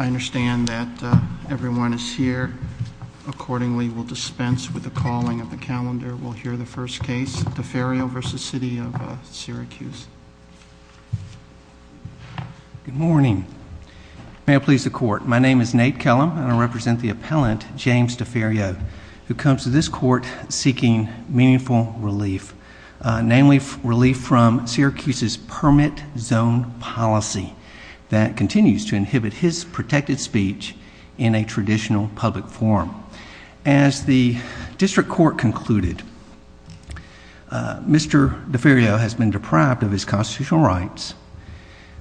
I understand that everyone is here. Accordingly, we will dispense with the calling of the calendar. We'll hear the first case, Deferio v. City of Syracuse. Good morning. May it please the court, my name is Nate Kellum and I represent the appellant, James Deferio, who comes to this court seeking meaningful relief, namely relief from Syracuse's permit zone policy that continues to inhibit his protected speech in a traditional public forum. As the district court concluded, Mr. Deferio has been deprived of his constitutional rights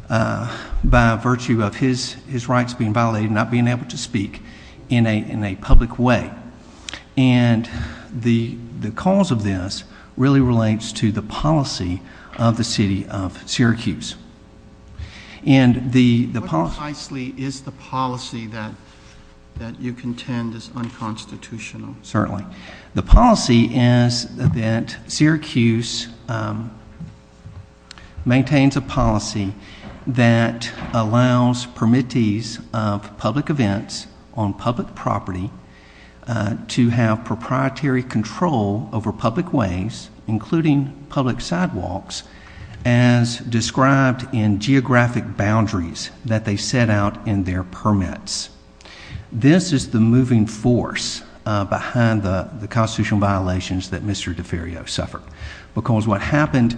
by virtue of his his rights being violated, not being able to speak in a public way. And the cause of this really relates to the policy of the City of Syracuse. What precisely is the policy that you contend is unconstitutional? Certainly. The policy is that Syracuse maintains a policy that allows permittees of public events on public property to have proprietary control over public ways, including public sidewalks, as described in geographic boundaries that they set out in their permits. This is the moving force behind the constitutional violations that Mr. Deferio suffered, because what happened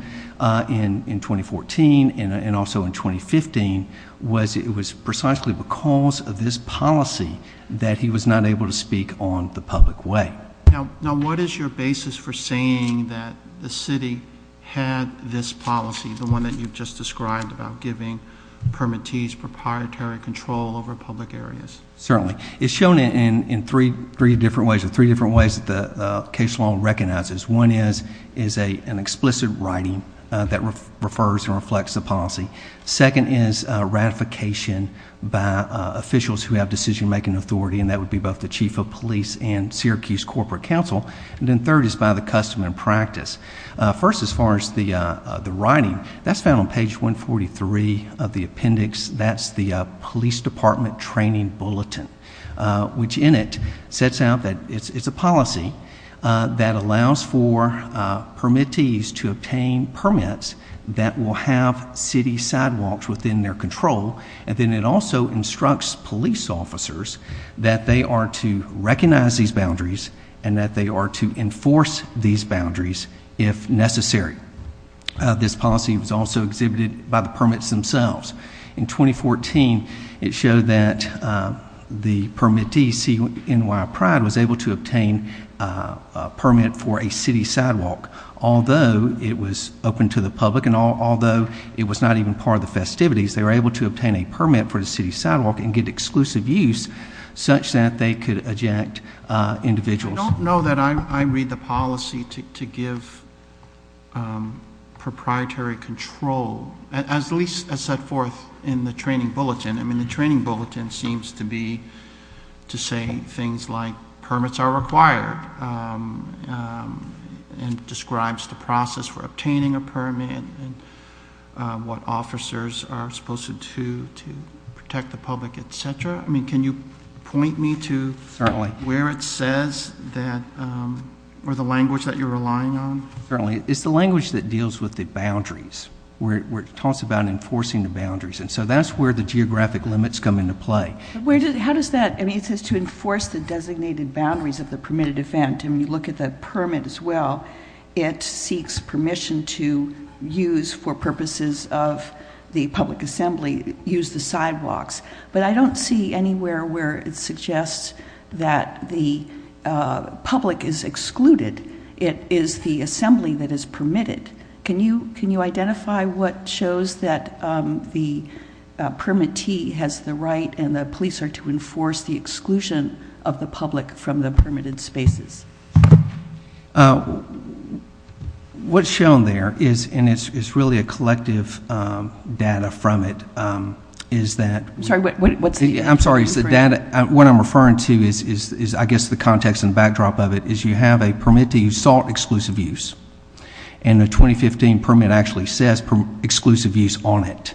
in 2014 and also in 2015 was it was precisely because of this policy that he was not able to speak on the public way. Now what is your basis for saying that the city had this policy, the one that you've just described, about giving permittees, proprietary control over public areas? Certainly. It's shown in three different ways, in three different ways that the case law recognizes. One is an explicit writing that refers and reflects the policy. Second is ratification by officials who have decision-making authority, and that would be both the Chief of Police and Syracuse Corporate Council. And then third is by the custom and practice. First, as far as the writing, that's found on page 143 of the appendix. That's the Police Department Training Bulletin, which in it sets out that it's a policy that allows for permittees to obtain permits that will have city sidewalks within their control, and then it also instructs police officers that they are to recognize these boundaries and that they are to enforce these boundaries if necessary. This policy was also exhibited by the permits themselves. In 2014, it showed that the permittee, CNY Pride, was able to obtain a permit for a city sidewalk, although it was open to the public and although it was not even part of the festivities, they were able to obtain a permit for the city sidewalk and get exclusive use such that they could eject individuals. I don't know that I read the policy to give proprietary control, at least as set forth in the Training Bulletin. I mean, the Training Bulletin seems to be to say things like permits are required and describes the process for obtaining a permit and what officers are supposed to do to protect the public, etc. I mean, can you point me to where it says that, or the language that you're relying on? It's the language that deals with the boundaries, where it talks about enforcing the boundaries, and so that's where the geographic limits come into play. How does that, I mean, it says to enforce the designated boundaries of the permitted event, and you look at the permit as well, it seeks permission to use, for purposes of the public assembly, use the sidewalks, but I don't see anywhere where it suggests that the identify what shows that the permittee has the right and the police are to enforce the exclusion of the public from the permitted spaces? What's shown there is, and it's really a collective data from it, is that, I'm sorry, the data, what I'm referring to is, I guess, the context and backdrop of it, is you have a permit to use salt exclusive use, and the 2015 permit actually says exclusive use on it,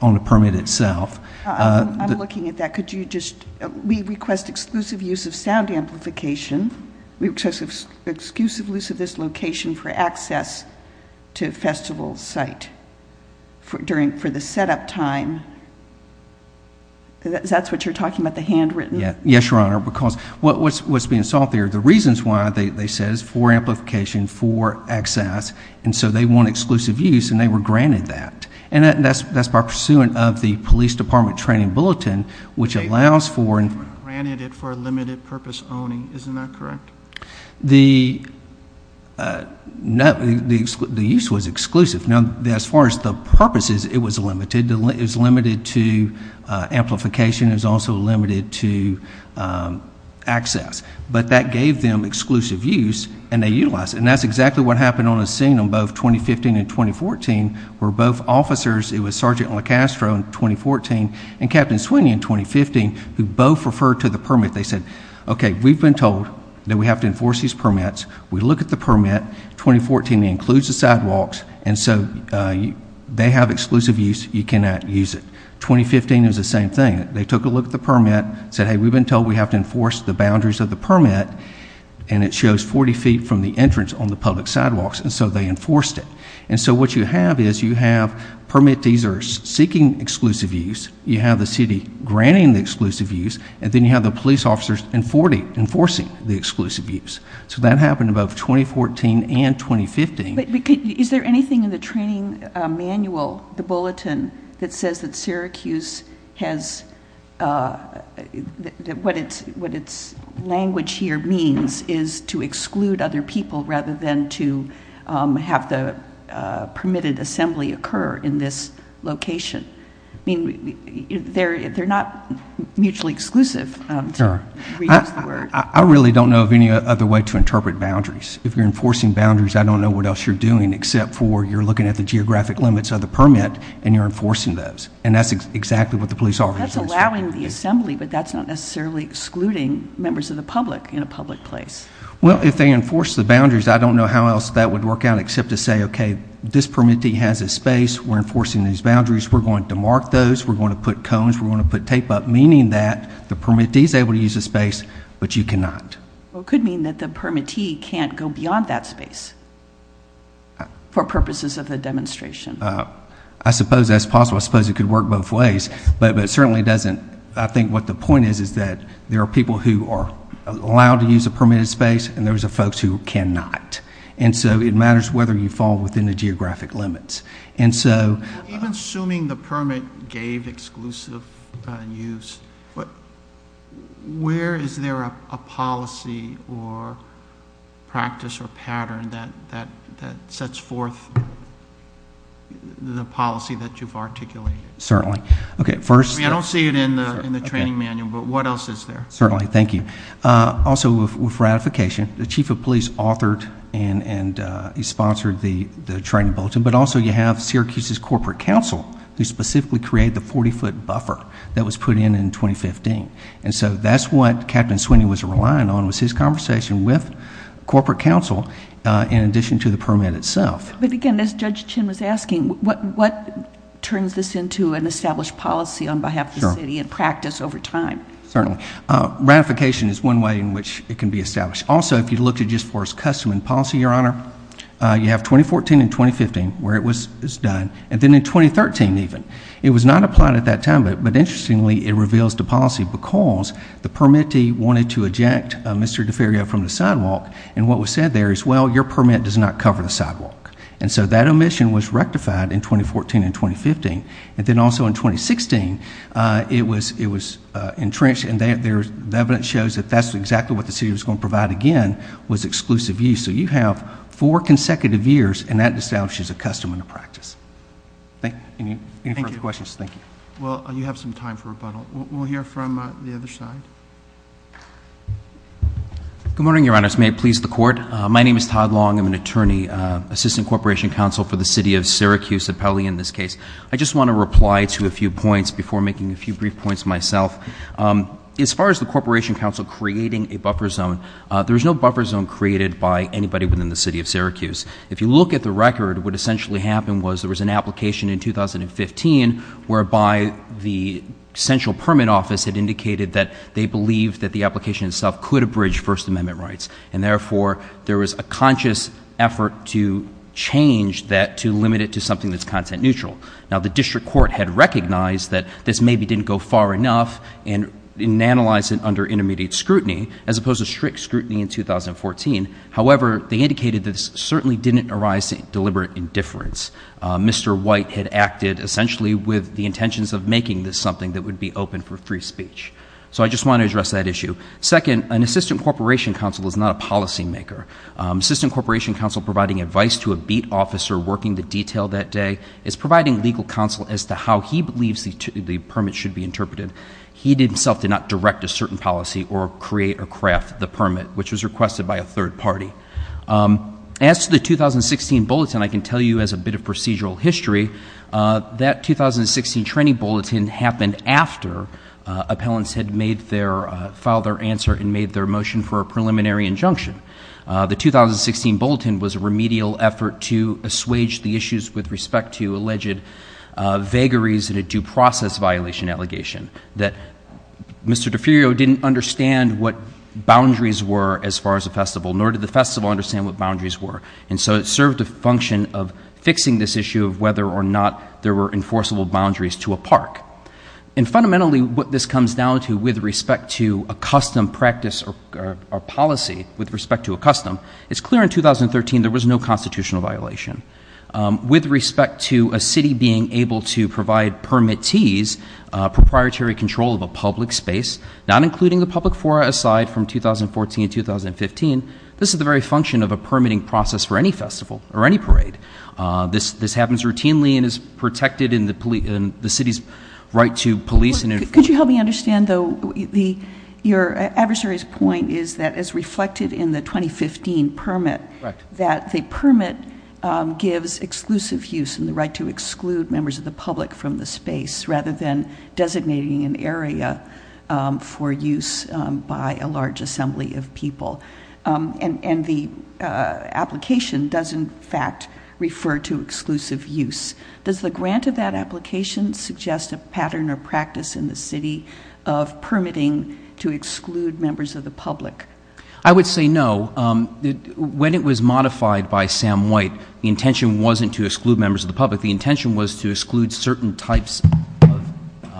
on the permit itself. I'm looking at that, could you just, we request exclusive use of sound amplification, we request exclusive use of this location for access to the festival site for the setup time, that's what you're talking about, the handwritten? Yes, Your Honor, because what's being solved here, the reasons why, they say it's for amplification, for access, and so they want exclusive use, and they were granted that, and that's by pursuant of the police department training bulletin, which allows for limited purpose owning, isn't that correct? The use was exclusive, now as far as the purposes, it was limited, it is limited to amplification, is also limited to access, but that gave them exclusive use, and they utilize it, and that's exactly what happened on the scene on both 2015 and 2014, where both officers, it was Sergeant LoCastro in 2014, and Captain Sweeney in 2015, who both referred to the permit, they said, okay, we've been told that we have to enforce these permits, we look at the permit, 2014 includes the sidewalks, and so they have used it, 2015 is the same thing, they took a look at the permit, said, hey, we've been told we have to enforce the boundaries of the permit, and it shows 40 feet from the entrance on the public sidewalks, and so they enforced it, and so what you have is, you have permit users seeking exclusive use, you have the city granting the exclusive use, and then you have the police officers enforcing the exclusive use, so that happened in both 2014 and 2015. Is there anything in the training manual, the bulletin, that says that Syracuse has, what its language here means, is to exclude other people rather than to have the permitted assembly occur in this location. I mean, they're not mutually exclusive. I really don't know of any other way to interpret boundaries. If you're enforcing at the geographic limits of the permit, and you're enforcing those, and that's exactly what the police officers are doing. That's allowing the assembly, but that's not necessarily excluding members of the public in a public place. Well, if they enforce the boundaries, I don't know how else that would work out except to say, okay, this permittee has a space, we're enforcing these boundaries, we're going to mark those, we're going to put cones, we're going to put tape up, meaning that the permittee is able to use a space, but you cannot. Well, it could mean that the demonstration. I suppose that's possible. I suppose it could work both ways, but it certainly doesn't. I think what the point is, is that there are people who are allowed to use a permitted space, and there's folks who cannot. And so, it matters whether you fall within the geographic limits. And so, assuming the permit gave exclusive use, but where is there a policy or practice or pattern that sets forth the policy that you've articulated? Certainly. Okay, first... I don't see it in the training manual, but what else is there? Certainly. Thank you. Also, with ratification, the Chief of Police authored and he sponsored the training bulletin, but also you have Syracuse's Corporate Council, who specifically created the 40-foot buffer that was put in in 2015. And so, that's what Captain Sweeney was relying on was his conversation with Corporate Council in addition to the permit itself. But again, as Judge Chin was asking, what turns this into an established policy on behalf of the city and practice over time? Certainly. Ratification is one way in which it can be established. Also, if you look at U.S. Forest Customs policy, Your Honor, you have 2014 and 2015 where it was done, and then in 2013 even. It was not applied at that time, but interestingly, it reveals the policy because the permittee wanted to eject Mr. Deferio from the sidewalk, and what was said there is, well, your permit does not cover the sidewalk. And so, that omission was rectified in 2014 and 2015, but then also in 2016, it was entrenched and the evidence shows that that's exactly what the city was going to provide again was exclusive use. So, you have four consecutive years, and that establishes a custom in the practice. Any further questions? Thank you. Well, you have some time for rebuttal. We'll hear from the other side. Good morning, Your Honor. May it please the Court. My name is Todd Long. I'm an attorney, Assistant Corporation Counsel for the City of Syracuse, appellee in this case. I just want to reply to a few points before making a few brief points myself. As far as the Corporation Counsel creating a buffer zone, there's no buffer zone created by anybody within the City of Syracuse. If you look at the record, what essentially happened was there was an application in 2015 whereby the Central Permit Office had indicated that they believed that the application itself could abridge First Amendment rights, and therefore, there was a conscious effort to change that to limit it to something that's content-neutral. Now, the District Court had recognized that this maybe didn't go far enough in analyzing under intermediate scrutiny, as opposed to strict scrutiny in 2014. However, they Mr. White had acted essentially with the intentions of making this something that would be open for free speech. So I just want to address that issue. Second, an Assistant Corporation Counsel is not a policymaker. Assistant Corporation Counsel providing advice to a BEAT officer working to detail that day is providing legal counsel as to how he believes the permit should be interpreted. He himself did not direct a certain policy or create or craft the permit, which was requested by a third party. As to the 2016 bulletin, I can tell you as a bit of procedural history, that 2016 training bulletin happened after appellants had made their, filed their answer and made their motion for a preliminary injunction. The 2016 bulletin was a remedial effort to assuage the issues with respect to alleged vagaries in a due process violation allegation that Mr. DiPirio didn't understand what boundaries were as far as the festival, nor did the festival understand what boundaries were, and so it served a fixing this issue of whether or not there were enforceable boundaries to a park. And fundamentally what this comes down to with respect to a custom practice or policy with respect to a custom, it's clear in 2013 there was no constitutional violation. With respect to a city being able to provide permittees, proprietary control of a public space, not including the public for a slide from 2014-2015, this is the very function of a permitting process for any parade. This happens routinely and is protected in the police, in the city's right to police. Could you help me understand though, your adversary's point is that as reflected in the 2015 permit, that the permit gives exclusive use and the right to exclude members of the public from the space rather than designating an area for use by a large assembly of people, and the application does in fact refer to exclusive use. Does the grant of that application suggest a pattern or practice in the city of permitting to exclude members of the public? I would say no. When it was modified by Sam White, the intention wasn't to exclude members of the public. The intention was to exclude certain types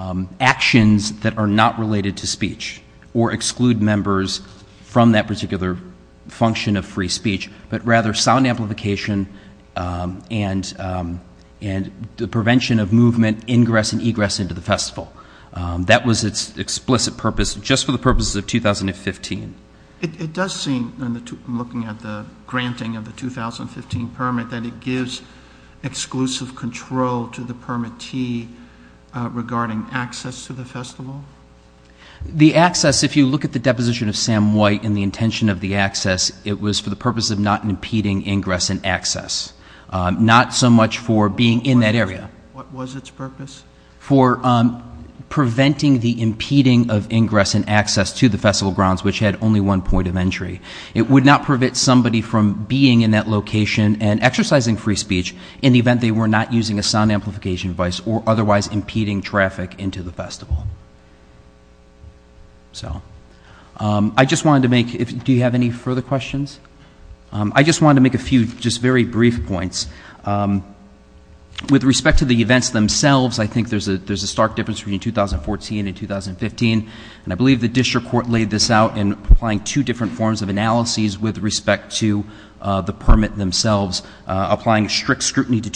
of actions that are not related to speech or exclude members from that particular function of free speech, but rather sound amplification and the prevention of movement, ingress and egress into the festival. That was its explicit purpose just for the purposes of 2015. It does seem, looking at the granting of the 2015 permit, that it gives exclusive control to the permittee regarding access to the festival? The access, if you look at the deposition of Sam White and the intention of the access, it was for the purpose of not impeding ingress and access. Not so much for being in that area. What was its purpose? For preventing the impeding of ingress and access to the festival grounds, which had only one point of entry. It would not prevent somebody from being in that location and exercising free speech in the event they were not using a sound device at all. I just wanted to make, do you have any further questions? I just wanted to make a few just very brief points. With respect to the events themselves, I think there's a stark difference between 2014 and 2015, and I believe the district court laid this out in applying two different forms of analyses with respect to the permit themselves. Applying strict scrutiny to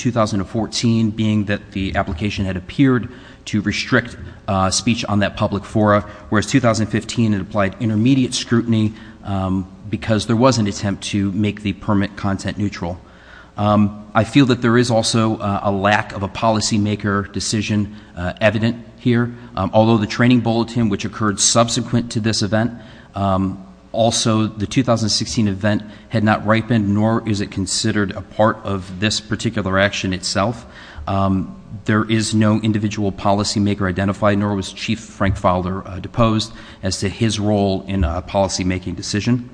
speech on that public fora, whereas 2015 it applied intermediate scrutiny because there was an attempt to make the permit content neutral. I feel that there is also a lack of a policymaker decision evident here. Although the training bulletin which occurred subsequent to this event, also the 2016 event had not ripened, nor is it considered a part of this particular action itself. There is no individual policymaker identified, nor was Chief Frank Fowler deposed as to his role in a policymaking decision.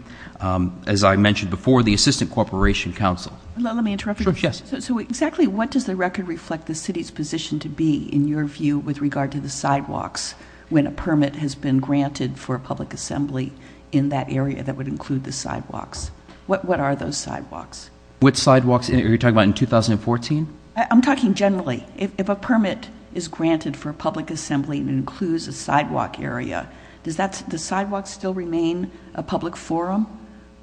As I mentioned before, the Assistant Corporation Counsel. Let me interrupt you. Yes. So exactly what does the record reflect the city's position to be in your view with regard to the sidewalks when a permit has been granted for public assembly in that area that would include the sidewalks? What are those sidewalks? What sidewalks are you talking about in 2014? I'm talking generally. If a permit is granted for public assembly and includes a sidewalk area, does the sidewalk still remain a public forum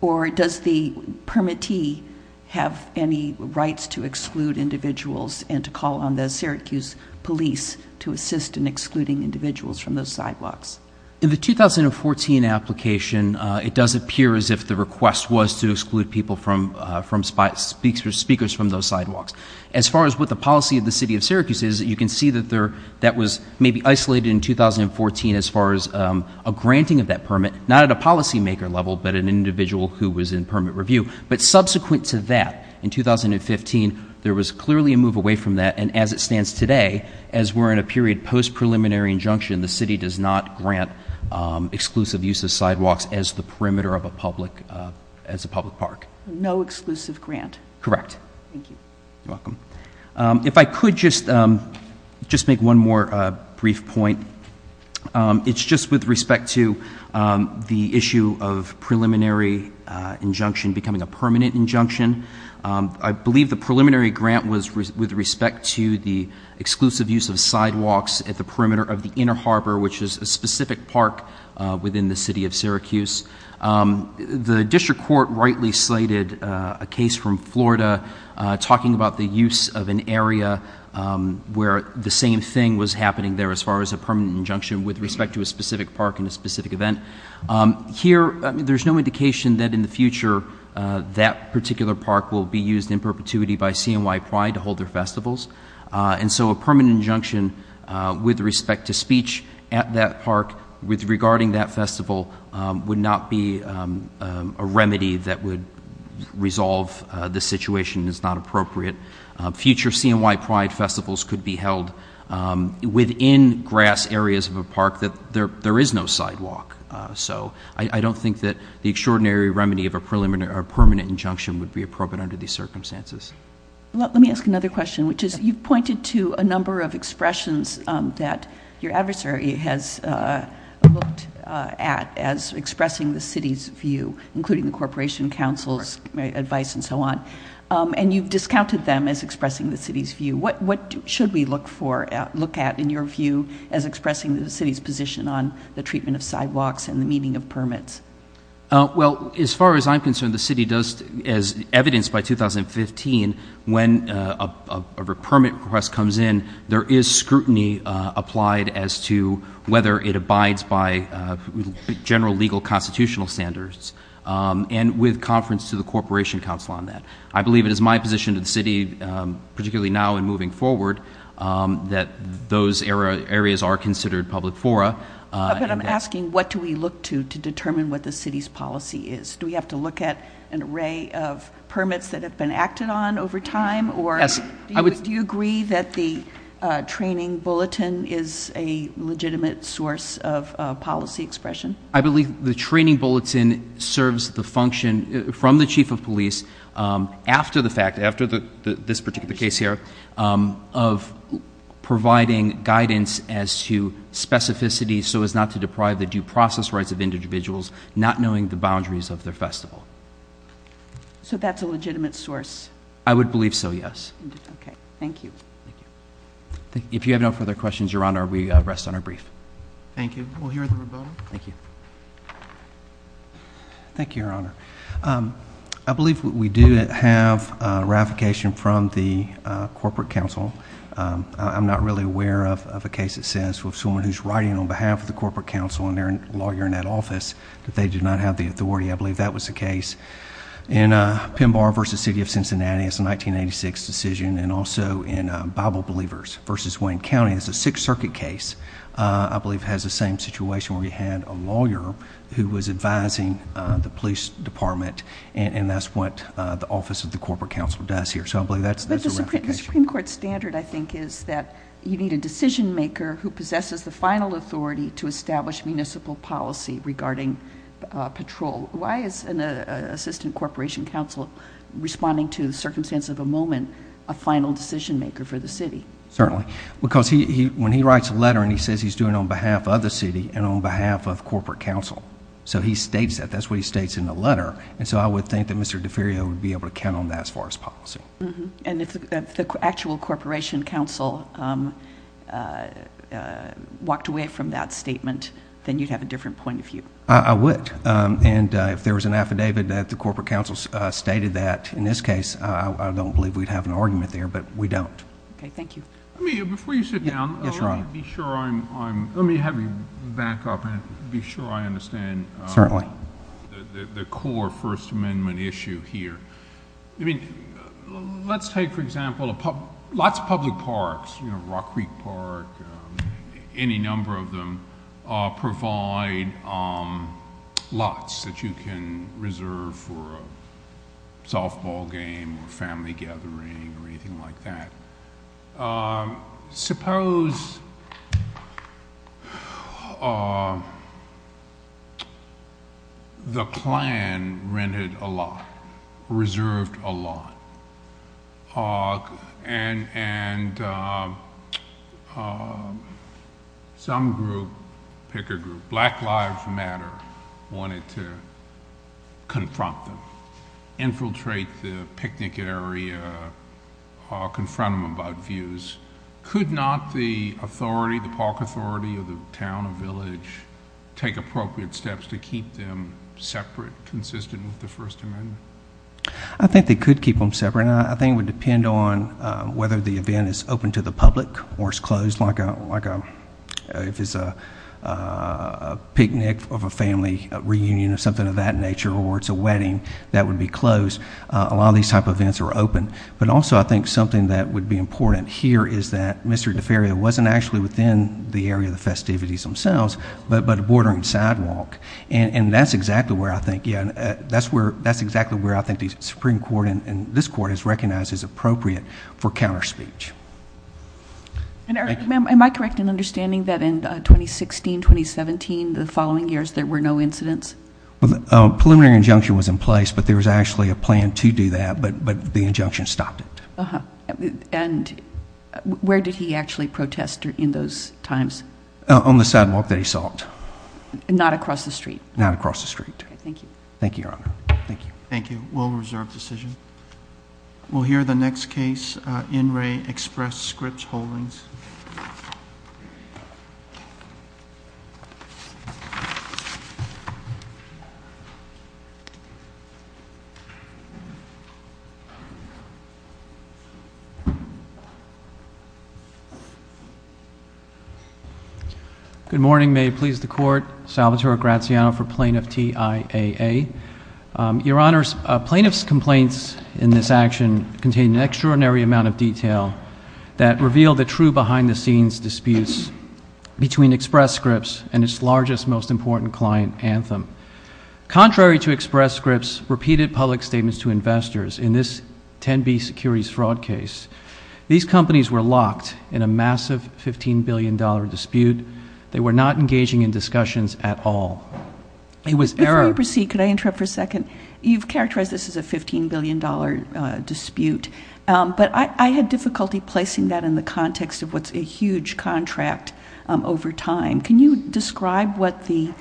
or does the permittee have any rights to exclude individuals and to call on the Syracuse police to assist in excluding individuals from those sidewalks? In the 2014 application, it does appear as if the request was to those sidewalks. As far as what the policy of the City of Syracuse is, you can see that there that was maybe isolated in 2014 as far as a granting of that permit, not at a policymaker level, but an individual who was in permit review. But subsequent to that, in 2015, there was clearly a move away from that and as it stands today, as we're in a period post-preliminary injunction, the city does not grant exclusive use of sidewalks as the perimeter of a public park. No exclusive grant? Correct. If I could just make one more brief point. It's just with respect to the issue of preliminary injunction becoming a permanent injunction. I believe the preliminary grant was with respect to the exclusive use of sidewalks at the perimeter of the Inner Harbor, which is a district court rightly slated a case from Florida talking about the use of an area where the same thing was happening there as far as a permanent injunction with respect to a specific park in a specific event. Here, there's no indication that in the future that particular park will be used in perpetuity by CMY Pride to hold their festivals and so a permanent injunction with respect to speech at that park with regarding that festival would not be a remedy that would resolve the situation is not appropriate. Future CMY Pride festivals could be held within grass areas of a park that there is no sidewalk so I don't think that the extraordinary remedy of a permanent injunction would be appropriate under these circumstances. Let me ask another question, which is you've pointed to a number of expressions that your adversary has looked at as expressing the city's view including the Corporation Council's advice and so on and you've discounted them as expressing the city's view. What should we look at in your view as expressing the city's position on the treatment of sidewalks and the meaning of permits? Well as far as I'm concerned the city does as evidenced by 2015 when a permit request comes in there is scrutiny applied as to whether it abides by general legal constitutional standards and with conference to the Corporation Council on that. I believe it is my position to the city particularly now and moving forward that those areas are considered public fora. I'm asking what do we look to to determine what the city's policy is. Do we have to look at an array of permits that have been acted on over Do you agree that the training bulletin is a legitimate source of policy expression? I believe the training bulletin serves the function from the chief of police after the fact after the this particular case here of providing guidance as to specificity so as not to deprive the due process rights of individuals not knowing the boundaries of their festival. So that's a legitimate source? I would believe so yes. Okay thank you. If you have no further questions your honor we rest on our brief. Thank you. Thank you your honor. I believe what we do have ratification from the Corporate Council. I'm not really aware of a case that says with someone who's writing on behalf of the Corporate Council and their lawyer in that office that they do not have the authority. I believe that was the case in Pemba versus City of Cincinnati. It's a 1986 decision and also in Bible Believers versus Wayne County. It's a Sixth Circuit case. I believe has the same situation where we had a lawyer who was advising the police department and that's what the office of the Corporate Council does here. So I believe that's the Supreme Court standard I think is that you need a decision maker who possesses the final authority to establish municipal policy regarding patrol. Why is an assistant corporation counsel responding to circumstance of the moment a final decision maker for the city? Certainly because he when he writes a letter and he says he's doing on behalf of the city and on behalf of Corporate Council so he states that that's what he states in the letter and so I would think that Mr. Deferio would be able to count on that as far as policy. And if the actual Corporation Council walked away from that statement then you'd have a different point of view. I would and if there was an affidavit that the Corporate Council stated that in this case I don't believe we'd have an argument there but we don't. Before you sit down, let me have you back up and be sure I understand the core First Amendment issue here. I mean let's say for example lots of public parks, Rock Creek Park, any number of them provide lots that you can reserve for a softball game or family gathering or anything like that. Suppose the plan rented a lot, reserved a lot, and some group, pick a group, Black Lives Matter wanted to confront them, infiltrate the picnic area or confront them about views. Could not the authority, the park authority, or the town or village take appropriate steps to keep them separate, consistent with the First Amendment? I think they could keep them separate. I think it would depend on whether the event is open to the public or it's closed like if it's a picnic of a family reunion or something of that nature or it's a wedding that would be closed. A lot of these type of events are open but also I think something that would be important here is that Mr. DeFaria wasn't actually within the area of the festivities themselves but bordering sidewalk and that's exactly where I think, yeah, that's where that's exactly where I think the Supreme Court and this court has recognized as appropriate for counterspeech. Am I correct in understanding that in 2016-2017 the following years there were no incidents? A preliminary injunction was in place but there was actually a preliminary injunction stopped it. And where did he actually protested in those times? On the sidewalk that he sought. Not across the street? Not across the street. Thank you. Thank you, Your Honor. Thank you. Thank you. We'll reserve decision. We'll hear the next case in In Re Express Scripts Holdings. Good morning. May it please the court. Salvatore Graziano for plaintiff TIAA. Your Honor, plaintiff's complaints in this action contain an extraordinary amount of detail that revealed the true behind-the-scenes disputes between Express Scripts and its largest, most important client, Anthem. Contrary to 10B's securities fraud case, these companies were locked in a massive $15 billion dispute. They were not engaging in discussions at all. It was error. Before we proceed, can I interrupt for a second? You've characterized this as a $15 billion dispute but I had difficulty placing that in the context of what's a huge contract over time. Can you describe what the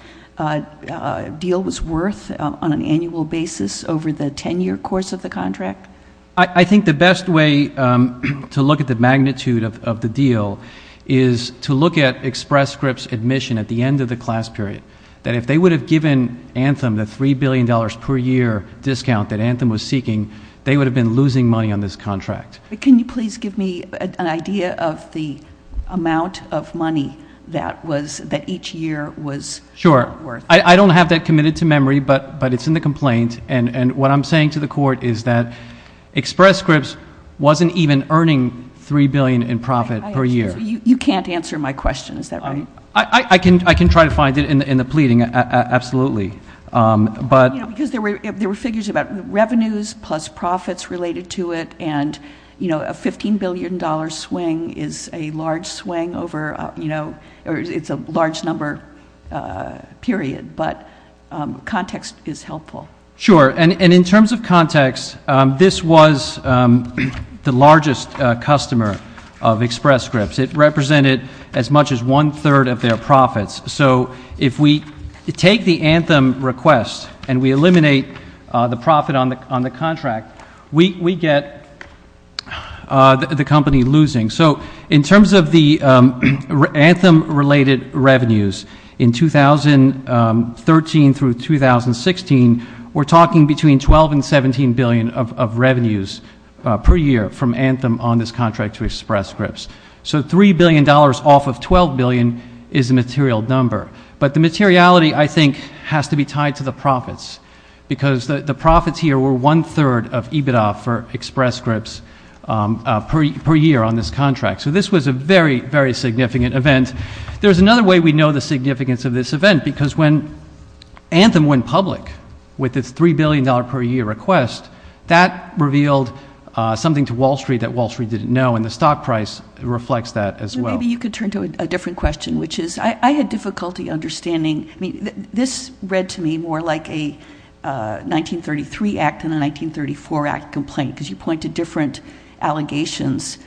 deal was worth on an annual basis over the 10-year course of the contract? I think the best way to look at the magnitude of the deal is to look at Express Scripts admission at the end of the class period. That if they would have given Anthem the $3 billion per year discount that Anthem was seeking, they would have been losing money on this contract. Can you please give me an idea of the amount of money that was, that each year was worth? Sure. I don't have that committed to memory but it's in the complaint and what I'm saying to the court is that Express Scripts wasn't even earning $3 billion in profit per year. You can't answer my question. I can try to find it in the pleading, absolutely. There were figures about revenues plus profits related to it and a $15 billion swing is a large swing over, it's a large number period but context is helpful. Sure and in terms of context, this was the largest customer of Express Scripts. It represented as much as one-third of their profits. So if we take the Anthem request and we eliminate the profit on the contract, we get the company losing. So in terms of the Anthem related revenues in 2013 through 2016, we're talking between 12 and 17 billion of revenues per year from Anthem on this contract to Express Scripts. So $3 billion off of 12 billion is a material number but the materiality I think has to be tied to the profits because the profits here were one-third of EBITDA for Express Scripts per year on this contract. So this was a very, very significant event. There's another way we know the significance of this event because when Anthem went public with the $3 billion per year request, that revealed something to Wall Street that Wall Street didn't know and the stock price reflects that as well. Maybe you could turn to a different question which is, I had difficulty understanding, I mean this read to me more like a 1933 Act than a 1934 Act complaint because you point to different allegations,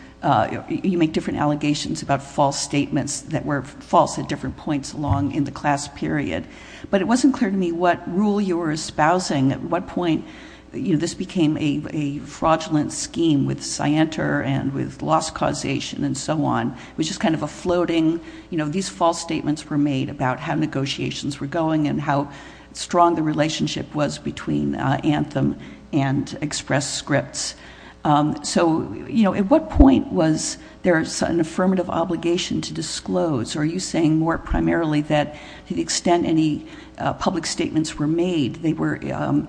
you make different allegations about false statements that were false at different points along in the class period. But it wasn't clear to me what rule you were espousing, at what point this became a fraudulent scheme with Scienter and with loss causation and so on, which is kind of a floating, you know, these false statements were made about how negotiations were going and how strong the relationship was between Anthem and Express Scripts. So, you know, at what point was there an affirmative obligation to disclose? Are you saying more primarily that to the extent any public statements were made, they were on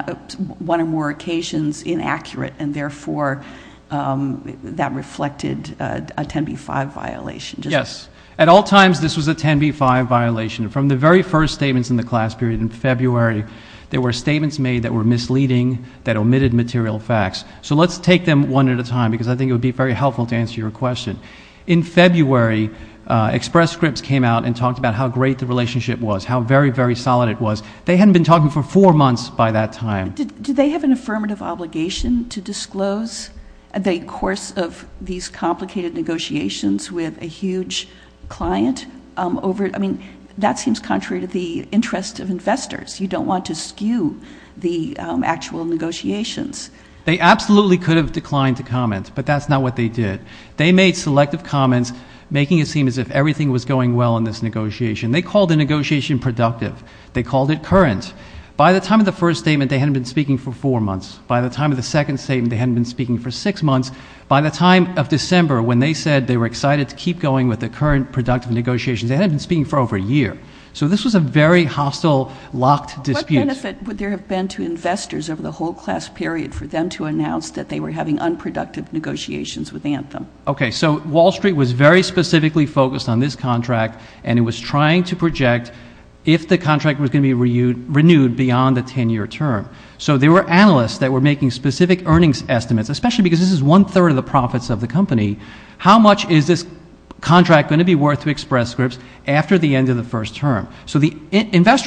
one or more occasions inaccurate and therefore that reflected a 10b-5 violation? Yes, at all times this was a 10b-5 violation. From the very first statements in the class period in February, there were statements made that were misleading, that omitted material facts. So let's take them one at a time because I think it would be very helpful to answer your question. In February, Express Scripts came out and talked about how great the relationship was, how very, very solid it was. They hadn't been talking for four months by that time. Did they have an affirmative obligation to disclose in the course of these complicated negotiations with a huge client? I mean, that seems contrary to the interests of investors. You don't want to skew the actual negotiations. They absolutely could have declined to comments, but that's not what they did. They made selective comments, making it seem as if everything was going well in this negotiation. They called the negotiation productive. They called it current. By the time of the first statement, they hadn't been speaking for four months. By the time of the second statement, they hadn't been speaking for six months. By the time of December, when they said they were excited to keep going with the current productive negotiation, they hadn't been speaking for over a year. So this was a very hostile, locked dispute. What benefit would there have been to investors over the whole class period for them to announce that they were having unproductive negotiations with Anthem? Okay, so Wall Street was very specifically focused on this contract, and it was trying to project if the contract was going to be renewed beyond the 10-year term. So there were analysts that were making specific earnings estimates, especially because this is one-third of the profits of the company. How much is this contract going to be worth to Express Scripts after the end of the first term? So the analysts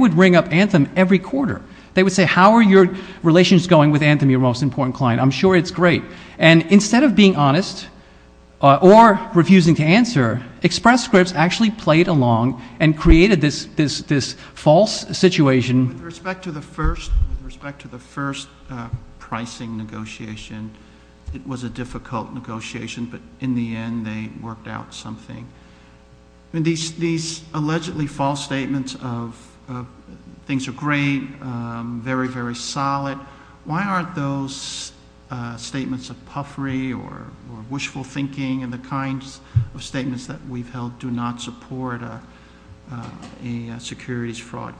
would ring up Anthem every quarter. They would say, how are your relations going with Anthem, your most important client? I'm sure it's great. And instead of being honest or refusing to answer, Express Scripts actually played along and created this false situation. With respect to the first pricing negotiation, it was a difficult negotiation, but in the end they worked out something. These allegedly false statements of things are great, very, very solid, why aren't those statements of puffery or wishful thinking and the kinds of statements that we've held do not support a securities fraud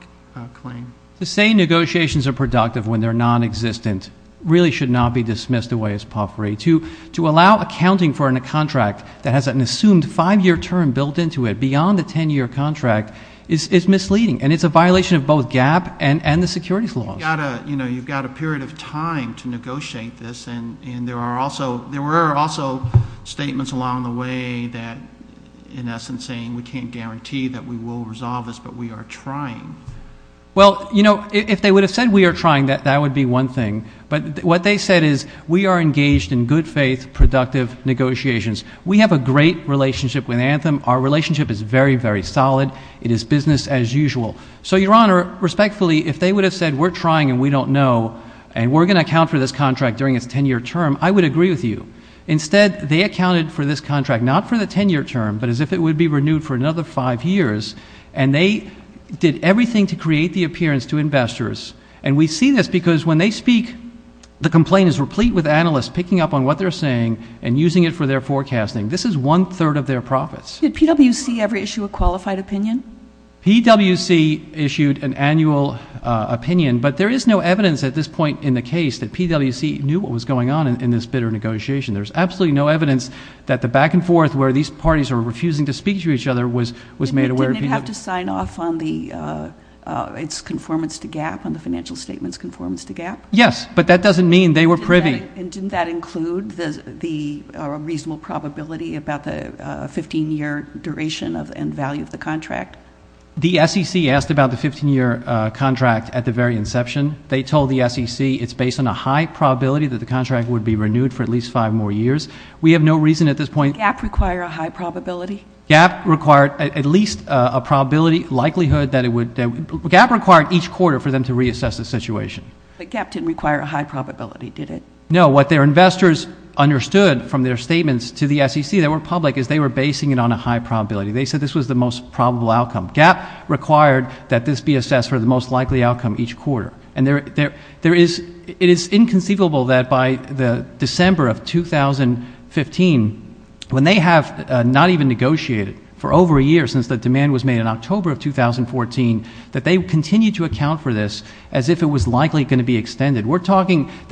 claim? To say negotiations are productive when they're non-existent really should not be dismissed away as puffery. To allow accounting for a contract that has an assumed five-year term built into it beyond the 10-year contract is misleading, and it's a violation of both GAAP and the securities law. You've got a period of time to negotiate this, and there were also statements along the way that, in essence, saying we can't guarantee that we will resolve this, but we are trying. Well, you know, if they would have said we are trying, that would be one thing. But what they said is we are engaged in good relationship with Anthem, our relationship is very, very solid, it is business as usual. So, Your Honor, respectfully, if they would have said we're trying and we don't know and we're going to account for this contract during its 10-year term, I would agree with you. Instead, they accounted for this contract not for the 10-year term, but as if it would be renewed for another five years, and they did everything to create the appearance to investors. And we see this because when they speak, the complaint is replete with analysts picking up on what they're saying and using it for their forecasting. This is one-third of their profits. Did PwC ever issue a qualified opinion? PwC issued an annual opinion, but there is no evidence at this point in the case that PwC knew what was going on in this bitter negotiation. There's absolutely no evidence that the back-and-forth where these parties are refusing to speak to each other was made aware of. Didn't they have to sign off on its conformance to GAAP, on the financial statement's conformance to GAAP? Yes, but that doesn't mean they were privy. And didn't that include the reasonable probability about the 15-year duration and value of the contract? The SEC asked about the 15-year contract at the very inception. They told the SEC it's based on a high probability that the contract would be renewed for at least five more years. We have no reason at this point... Did GAAP require a high probability? GAAP required at least a probability likelihood that it would... GAAP required each quarter for them to What their investors understood from their statements to the SEC that were public is they were basing it on a high probability. They said this was the most probable outcome. GAAP required that this be assessed for the most likely outcome each quarter. And there is... it is inconceivable that by the December of 2015, when they have not even negotiated for over a year since the demand was made in October of 2014, that they continue to account for this as if it can't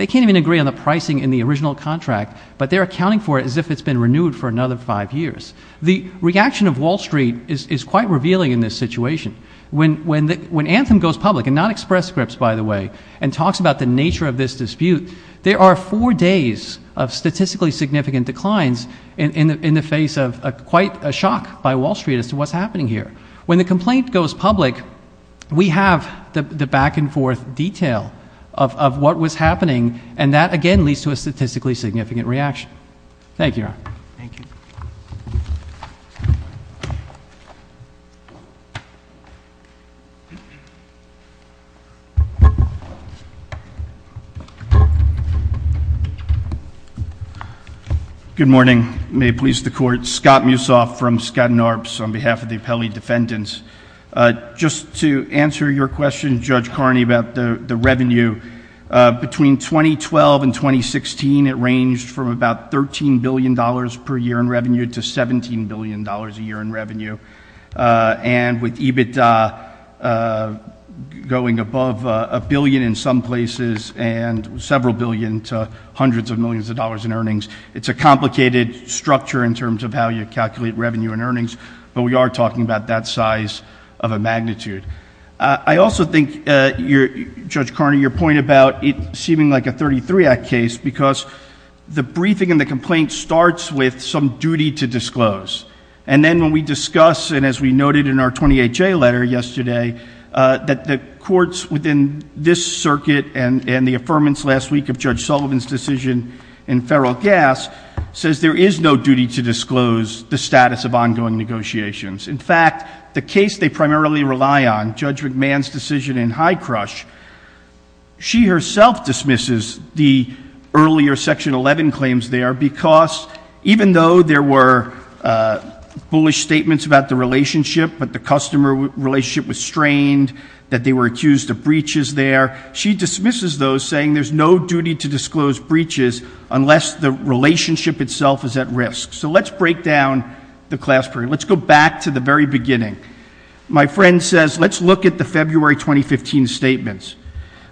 even agree on the pricing in the original contract, but they're accounting for it as if it's been renewed for another five years. The reaction of Wall Street is quite revealing in this situation. When Anthem goes public, and not Express Scripts, by the way, and talks about the nature of this dispute, there are four days of statistically significant declines in the face of quite a shock by Wall Street as to what's happening here. When the complaint goes public, we have the back-and-forth detail of what was happening, and that again leads to a statistically significant reaction. Thank you. Good morning. May it please the Court. Scott Mussoff from Skadden Arps on behalf of the Appellee Defendants. Just to answer your question, Judge Carney, about the revenue. Between 2012 and 2016, it ranged from about $13 billion per year in revenue to $17 billion a year in revenue. And with EBITDA going above a billion in some places, and several billion to hundreds of millions of dollars in earnings, it's a complicated structure in terms of how you calculate revenue and you're talking about that size of a magnitude. I also think, Judge Carney, your point about it seeming like a 33 Act case, because the briefing and the complaint starts with some duty to disclose. And then when we discuss, and as we noted in our 28-J letter yesterday, that the courts within this circuit and the affirmance last week of Judge Sullivan's decision in Federal Gas says there is no duty to disclose the status of ongoing negotiations. In fact, the case they primarily rely on, Judge McMahon's decision in High Crush, she herself dismisses the earlier Section 11 claims there because even though there were bullish statements about the relationship, that the customer relationship was strained, that they were accused of breaches there, she dismisses those saying there's no duty to disclose breaches unless the relationship itself is at risk. So let's break down the class period. Let's go back to the very beginning. My friend says, let's look at the February 2015 statements.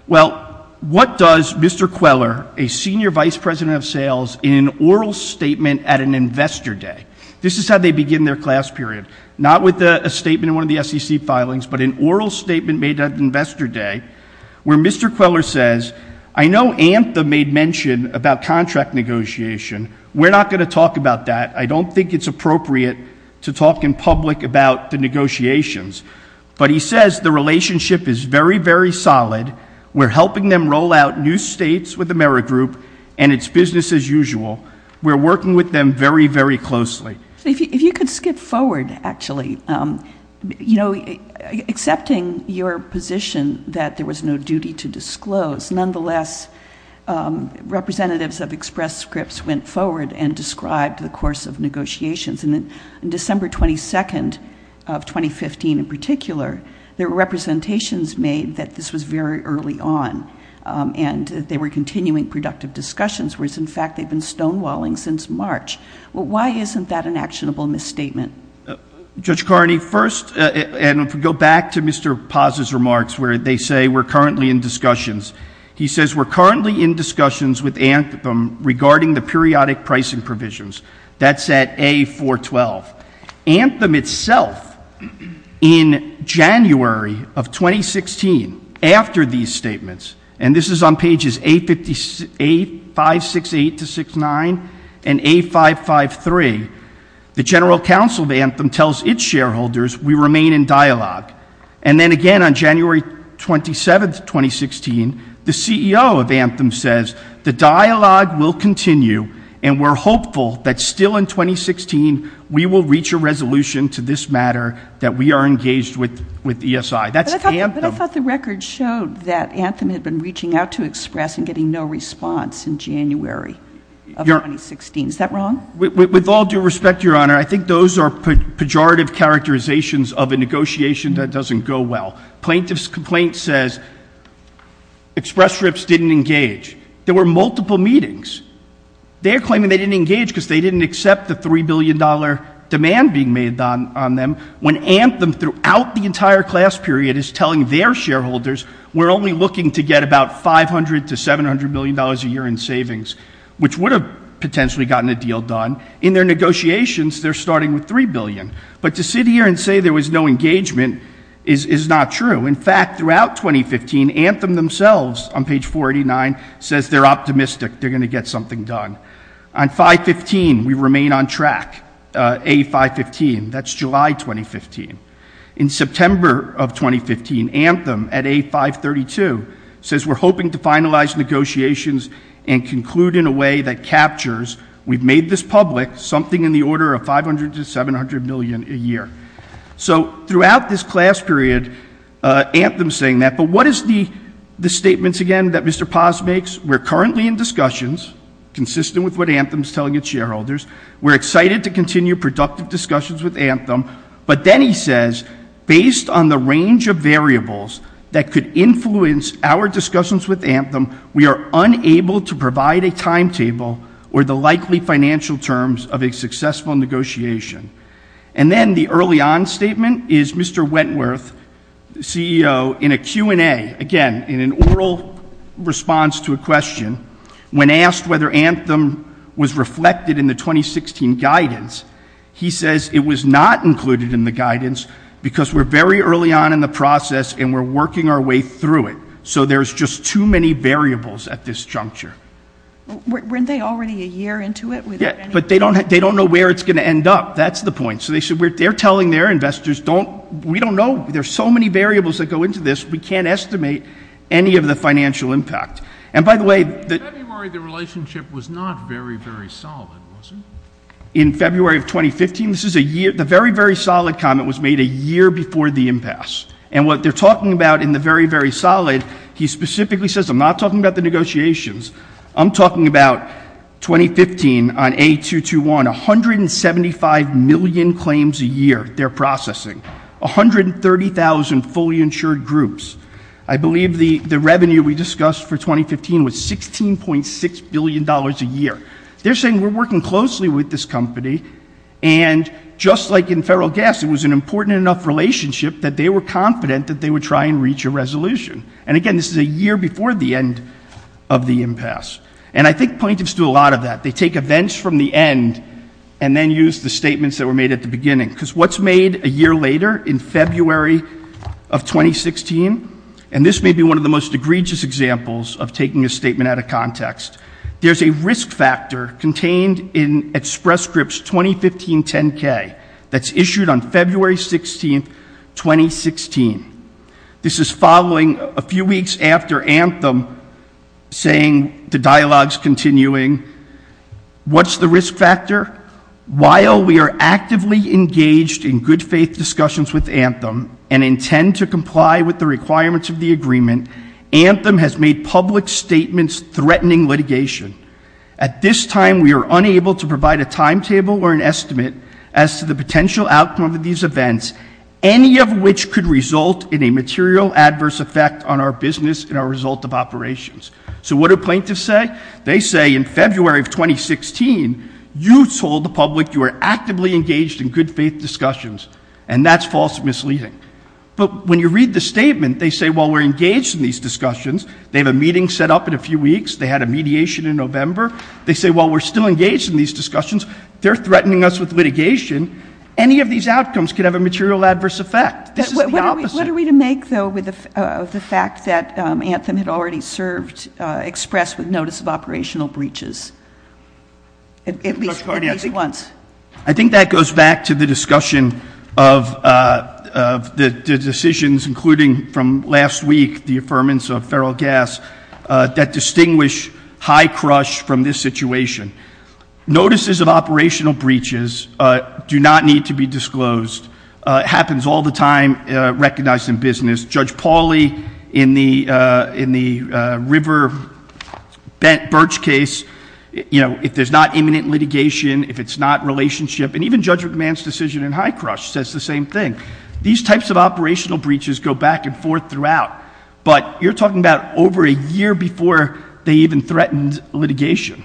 Well, what does Mr. Queller, a senior vice president of sales, in an oral statement at an investor day, this is how they begin their class period, not with a statement in one of the SEC filings, but an oral statement made at investor day, where Mr. Queller says, I know ANTHA made mention about contract negotiation, we're not going to talk about that. I don't think it's appropriate to talk in public about the negotiations, but he says the relationship is very, very solid. We're helping them roll out new states with Amerigroup and it's business as usual. We're working with them very, very closely. If you could skip forward, actually, you know, accepting your position that there was no duty to disclose, nonetheless, representatives of Express Scripts went forward and described the course of negotiations. In December 22nd of 2015, in particular, there were representations made that this was very early on and they were continuing productive discussions, whereas in fact they've been stonewalling since March. Why isn't that an actionable misstatement? Judge Carney, first, and go back to Mr. Paz's remarks, where they say we're currently in discussions. He says we're currently in discussions with ANTHACOM regarding the periodic pricing provisions. That's at A-412. ANTHAM itself, in January of 2016, after these statements, and this is on pages A-568-69 and A-553, the General Counsel of ANTHAM tells its shareholders we remain in dialogue. And then again on January 27th, 2016, the CEO of ANTHAM says the dialogue will continue and we're hopeful that still in 2016 we will reach a resolution to this matter that we are engaged with ESI. That's ANTHAM. But I thought the record showed that ANTHAM had been reaching out to Express and getting no response in January of 2016. Is that wrong? With all due respect, Your Honor, I think those are pejorative characterizations of a negotiation that doesn't go well. Plaintiff's complaint says Express Scripts didn't engage. There were multiple meetings. They're claiming they didn't engage because they didn't accept the $3 billion demand being made on them, when ANTHAM throughout the entire class period is telling their shareholders we're only looking to get about $500 to $700 million a year in savings, which would have potentially gotten a deal done. In their negotiations, they're starting with $3 billion. But to sit here and say there was no engagement is not true. In fact, throughout 2015, ANTHAM themselves on page 489 says they're optimistic they're going to get something done. On 515, we remain on track. A515, that's July 2015. In September of 2015, ANTHAM at A532 says we're hoping to finalize negotiations and conclude in a way that captures, we've made this public, something in the order of $500 to $700 million a year. So throughout this class period, ANTHAM's saying that. But what is the statements again that Mr. Paz makes? We're currently in discussions consistent with what ANTHAM's telling its shareholders. We're excited to continue productive discussions with ANTHAM. But then he says based on the range of variables that could influence our discussions with ANTHAM, we are unable to provide a timetable or the likely financial terms of a successful negotiation. And then the early on statement is Mr. Wentworth, CEO, in a Q&A, again in an oral response to a question, when asked whether ANTHAM was reflected in the 2016 guidance, he says it was not included in the guidance because we're very early on in the process and we're working our way through it. So there's just too many variables at this juncture. Weren't they already a year into it? Yeah, but they don't know where it's going to end up. That's the point. So they're telling their investors, we don't know, there's so many variables that go into this, we can't estimate any of the financial impact. And by the way, In February, the relationship was not very, very solid, was it? In February of 2015, this is a year, the very, very solid comment was made a year before the impasse. And what they're talking about in the very, very solid, he I'm talking about 2015 on A221, 175 million claims a year they're processing, 130,000 fully insured groups. I believe the revenue we discussed for 2015 was $16.6 billion a year. They're saying we're working closely with this company and just like in federal gas, it was an important enough relationship that they were confident that they would try and reach a resolution. And again, this is a And I think plaintiffs do a lot of that. They take events from the end and then use the statements that were made at the beginning. Because what's made a year later in February of 2016, and this may be one of the most egregious examples of taking a statement out of context, there's a risk factor contained in Express Scripts 2015-10-K that's issued on February 16, 2016. This is following a saying, the dialogue's continuing, what's the risk factor? While we are actively engaged in good faith discussions with Anthem and intend to comply with the requirements of the agreement, Anthem has made public statements threatening litigation. At this time, we are unable to provide a timetable or an estimate as to the potential outcome of these events, any of which could result in a material adverse effect on our business and our result of operations. So what do plaintiffs say? They say in February of 2016, you told the public you are actively engaged in good faith discussions, and that's false and misleading. But when you read the statement, they say, well, we're engaged in these discussions. They have a meeting set up in a few weeks. They had a mediation in November. They say, well, we're still engaged in these discussions. They're threatening us with litigation. Any of these outcomes could have a material adverse effect. What are we to make, though, of the fact that Anthem had already served, expressed with notice of operational breaches? At least, at least once. I think that goes back to the discussion of the decisions, including from last week, the affirmance of feral gas, that distinguish high crush from this situation. Notices of operational breaches do not need to be disclosed. It is time-recognized in business. Judge Pauly, in the river-bent birch case, you know, if there's not imminent litigation, if it's not relationship, and even Judge McMahon's decision in high crush says the same thing. These types of operational breaches go back and forth throughout. But you're talking about over a year before they even threatened litigation.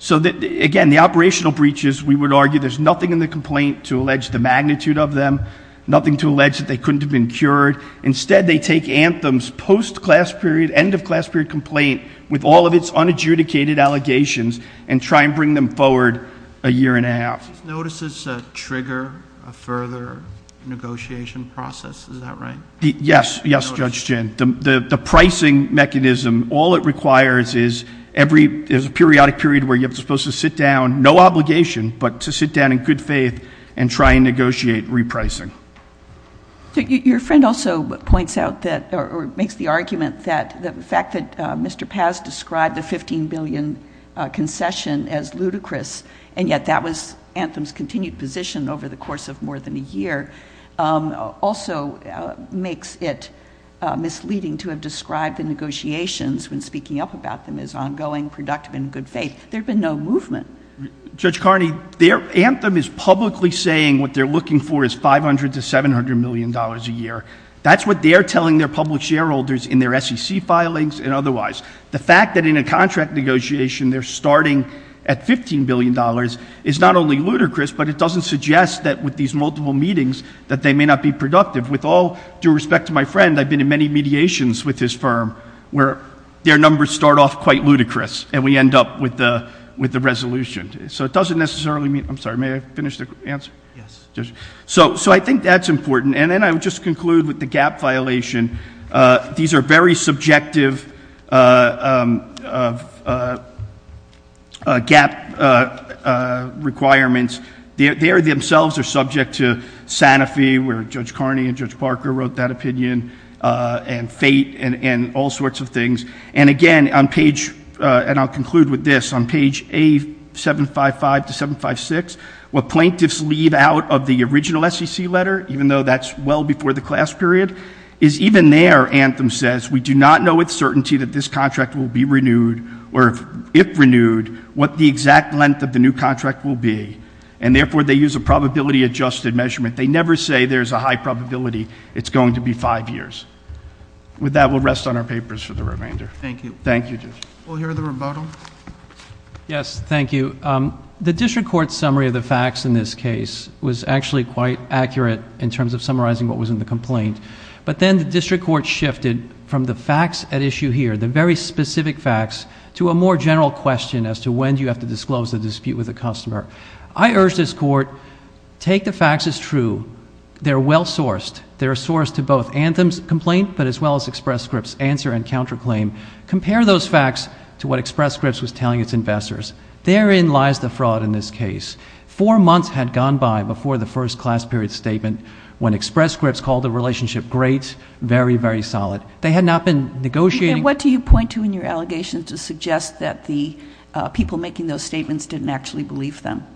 So again, the operational breaches, we would argue there's nothing in the complaint to allege the magnitude of them, nothing to allege that they couldn't have been cured. Instead, they take Anthem's post-class period, end-of-class period complaint, with all of its unadjudicated allegations, and try and bring them forward a year and a half. Notice it's a trigger, a further negotiation process. Is that right? Yes. Yes, Judge Chin. The pricing mechanism, all it requires is a periodic period where you're supposed to sit down, no obligation, but to sit down in good faith, and negotiate repricing. Your friend also points out that, or makes the argument that the fact that Mr. Paz described the $15 billion concession as ludicrous, and yet that was Anthem's continued position over the course of more than a year, also makes it misleading to have described the negotiations when speaking up about them as ongoing, productive, and in good faith. There's been no movement. Judge Carney, Anthem is publicly saying what they're looking for is $500 to $700 million a year. That's what they're telling their public shareholders in their SEC filings and otherwise. The fact that in a contract negotiation they're starting at $15 billion is not only ludicrous, but it doesn't suggest that with these multiple meetings that they may not be productive. With all due respect to my friend, I've been in many mediations with this firm where their resolution, so it doesn't necessarily mean, I'm sorry, may I finish the answer? So I think that's important, and then I'll just conclude with the gap violation. These are very subjective gap requirements. They themselves are subject to Santa Fe, where Judge Carney and Judge Parker wrote that opinion, and fate, and all sorts of things. And again, on page, and I'll conclude with this, on page A755 to 756, what plaintiffs leave out of the original SEC letter, even though that's well before the class period, is even there, Anthem says, we do not know with certainty that this contract will be renewed, or if renewed, what the exact length of the new contract will be. And therefore, they use a probability-adjusted measurement. They never say there's a high probability it's going to be five years. With that, we'll rest on our papers for the Yes, thank you. The district court's summary of the facts in this case was actually quite accurate in terms of summarizing what was in the complaint, but then the district court shifted from the facts at issue here, the very specific facts, to a more general question as to when do you have to disclose the dispute with the customer. I urge this court, take the facts as true. They're well sourced. They're sourced to both Anthem's complaint, but as well as Express Script's answer and counterclaim. Compare those facts to what Express Script's answer. Therein lies the fraud in this case. Four months had gone by before the first class period statement when Express Script's called the relationship great, very, very solid. They had not been negotiating. And what do you point to in your allegations to suggest that the people making those statements didn't actually believe them,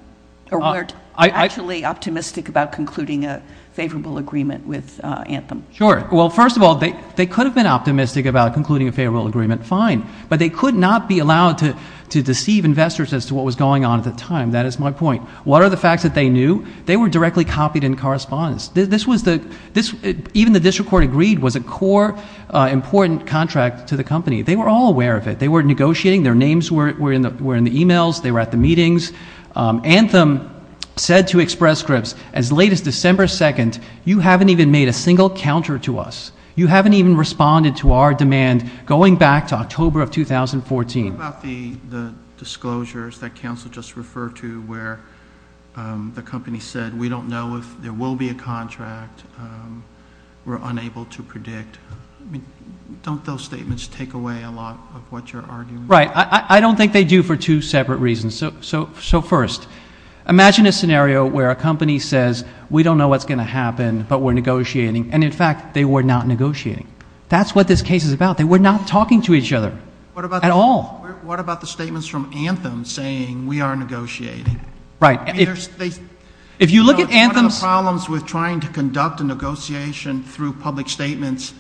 or weren't actually optimistic about concluding a favorable agreement with Anthem? Sure. Well, first of all, they could have been optimistic about concluding a favorable agreement, fine, but they could not be investors as to what was going on at the time. That is my point. What are the facts that they knew? They were directly copied in correspondence. This was the, this, even the district court agreed was a core important contract to the company. They were all aware of it. They were negotiating. Their names were in the, were in the emails. They were at the meetings. Anthem said to Express Script's, as late as December 2nd, you haven't even made a single counter to us. You haven't even responded to our demand going back to October of 2014. What about the disclosures that counsel just referred to where the company said, we don't know if there will be a contract. We're unable to predict. Don't those statements take away a lot of what you're arguing? Right. I don't think they do for two separate reasons. So, so, so first, imagine a scenario where a company says, we don't know what's going to happen. That's what this case is about. They were not talking to each other at all. What about the statements from Anthem saying we are negotiating? Right. If you look at Anthem's. Problems with trying to conduct a negotiation through public statements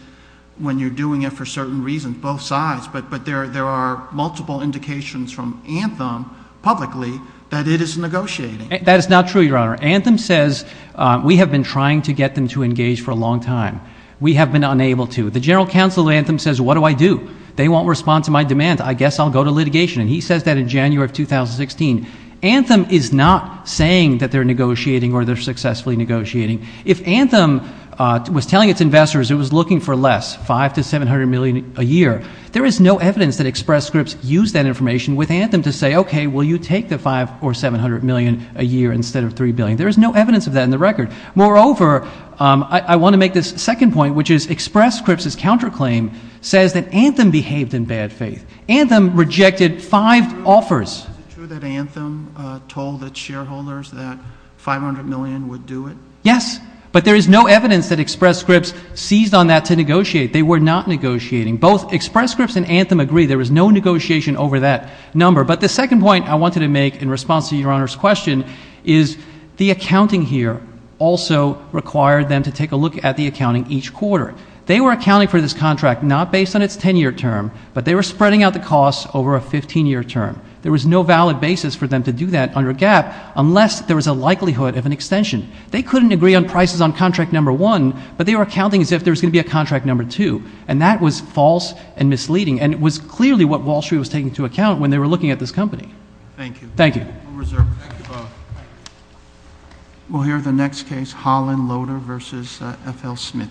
when you're doing it for certain reasons, both sides, but, but there, there are multiple indications from Anthem publicly that it is negotiating. That is not true, Your Honor. Anthem says we have been trying to get them to engage for a long time. We have been unable to. The general counsel of Anthem says, what do I do? They won't respond to my demand. I guess I'll go to litigation. And he says that in January of 2016. Anthem is not saying that they're negotiating or they're successfully negotiating. If Anthem was telling its investors it was looking for less, five to 700 million a year, there is no evidence that Express Scripts used that information with Anthem to say, okay, will you take the five or 700 million a year instead of three billion? There is no evidence of that in the record. Moreover, I want to make this second point, which is Express Scripts' counterclaim says that Anthem behaved in bad faith. Anthem rejected five offers. Is it true that Anthem told its shareholders that 500 million would do it? Yes. But there is no evidence that Express Scripts seized on that to negotiate. They were not negotiating. Both Express Scripts and Anthem agree there was no negotiation over that number. But the second point I wanted to make in response to Your Honor's question is the accounting here also required them to take a look at the accounting each quarter. They were accounting for this contract not based on its 10-year term, but they were spreading out the costs over a 15-year term. There was no valid basis for them to do that under GAAP unless there was a likelihood of an extension. They couldn't agree on prices on contract number one, but they were accounting as if there was going to be a contract number two. And that was false and misleading. And it was clearly what Wall Street was taking into account when they were looking at this company. Thank you. Thank you. We'll hear the next case, Holland Loader v. F. L. Smit.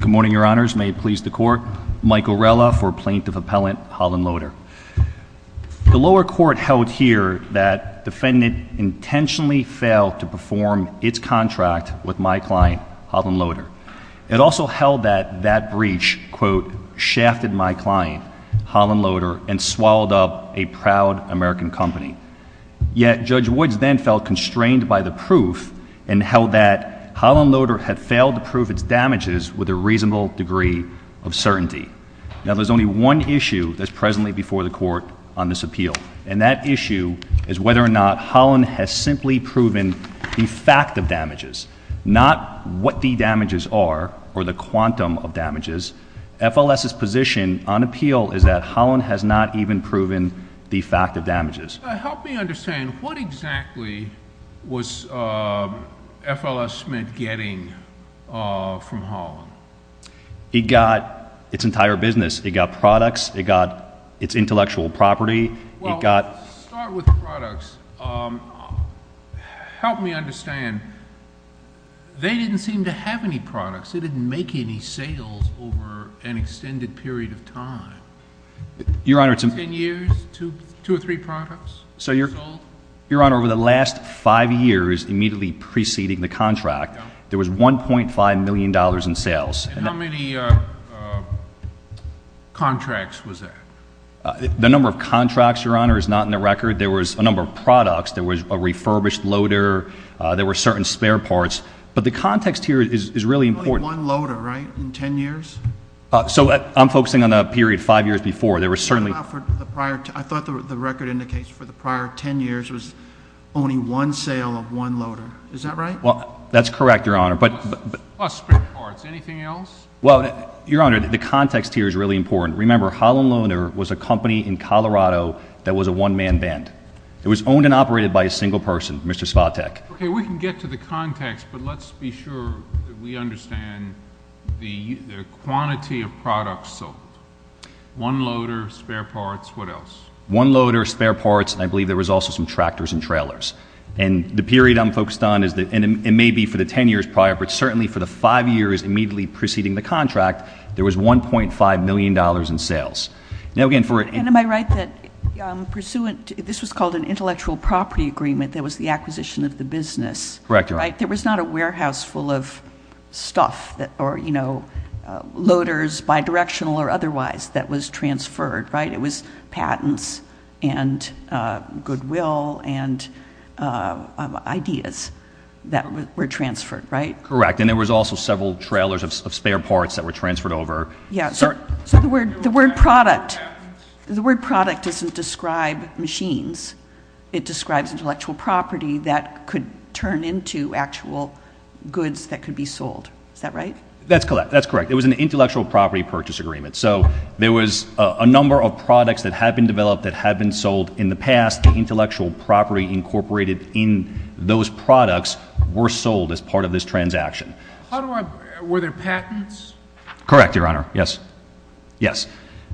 Good morning, Your Honors. May it please the Court. Mike Orella for Plaintiff Appellant, Holland Loader. The lower court held here that defendant intentionally failed to perform its contract with my client, Holland Loader. It also held that that breach, quote, shafted my client, Holland Loader, and swallowed up a proud American company. Yet Judge Woods then felt constrained by the proof and held that Holland Loader had failed to prove its damages with a reasonable degree of certainty. Now, there's only one issue that's presently before the Court on this appeal, and that issue is whether or not Holland has simply proven the fact of damages. F. L. S.'s position on appeal is that Holland has not even proven the fact of damages. Help me understand. What exactly was F. L. S. Smit getting from Holland? It got its entire business. It got products. It got its intellectual property. Well, let's start with products. Help me understand. They didn't seem to have any sales over an extended period of time. Your Honor, it's a... Ten years? Two or three products? So, Your Honor, over the last five years, immediately preceding the contract, there was $1.5 million in sales. And how many contracts was that? The number of contracts, Your Honor, is not in the record. There was a number of products. There was a refurbished loader. There were certain spare parts. But the context here is really important. There was only one loader, right, in ten years? So I'm focusing on the period five years before. There was certainly... I thought the record indicates for the prior ten years was only one sale of one loader. Is that right? Well, that's correct, Your Honor. Plus spare parts. Anything else? Well, Your Honor, the context here is really important. Remember, Holland Loader was a company in Colorado that was a one-man band. It was owned and operated by a single person, Mr. Svatek. Okay, we can get to the context, but let's be sure that we understand the quantity of products sold. One loader, spare parts, what else? One loader, spare parts, and I believe there was also some tractors and trailers. And the period I'm focused on is that it may be for the ten years prior, but certainly for the five years immediately preceding the contract, there was $1.5 million in sales. Now, again, for... And am I right that pursuant... This was called an intellectual property agreement that was the acquisition of the business, right? Correct, Your Honor. There was not a warehouse full of stuff or loaders, bi-directional or otherwise, that was transferred, right? It was patents and goodwill and ideas that were transferred, right? Correct. And there was also several trailers of spare parts that were transferred over. Yes. So the word product, the word product doesn't describe machines. It describes intellectual property that could turn into actual goods that could be sold. Is that right? That's correct. It was an intellectual property purchase agreement. So there was a number of products that had been developed that had been sold in the past. The intellectual property incorporated in those products were sold as part of this transaction. How do I... Were there patents? Correct, Your Honor. Yes. Yes.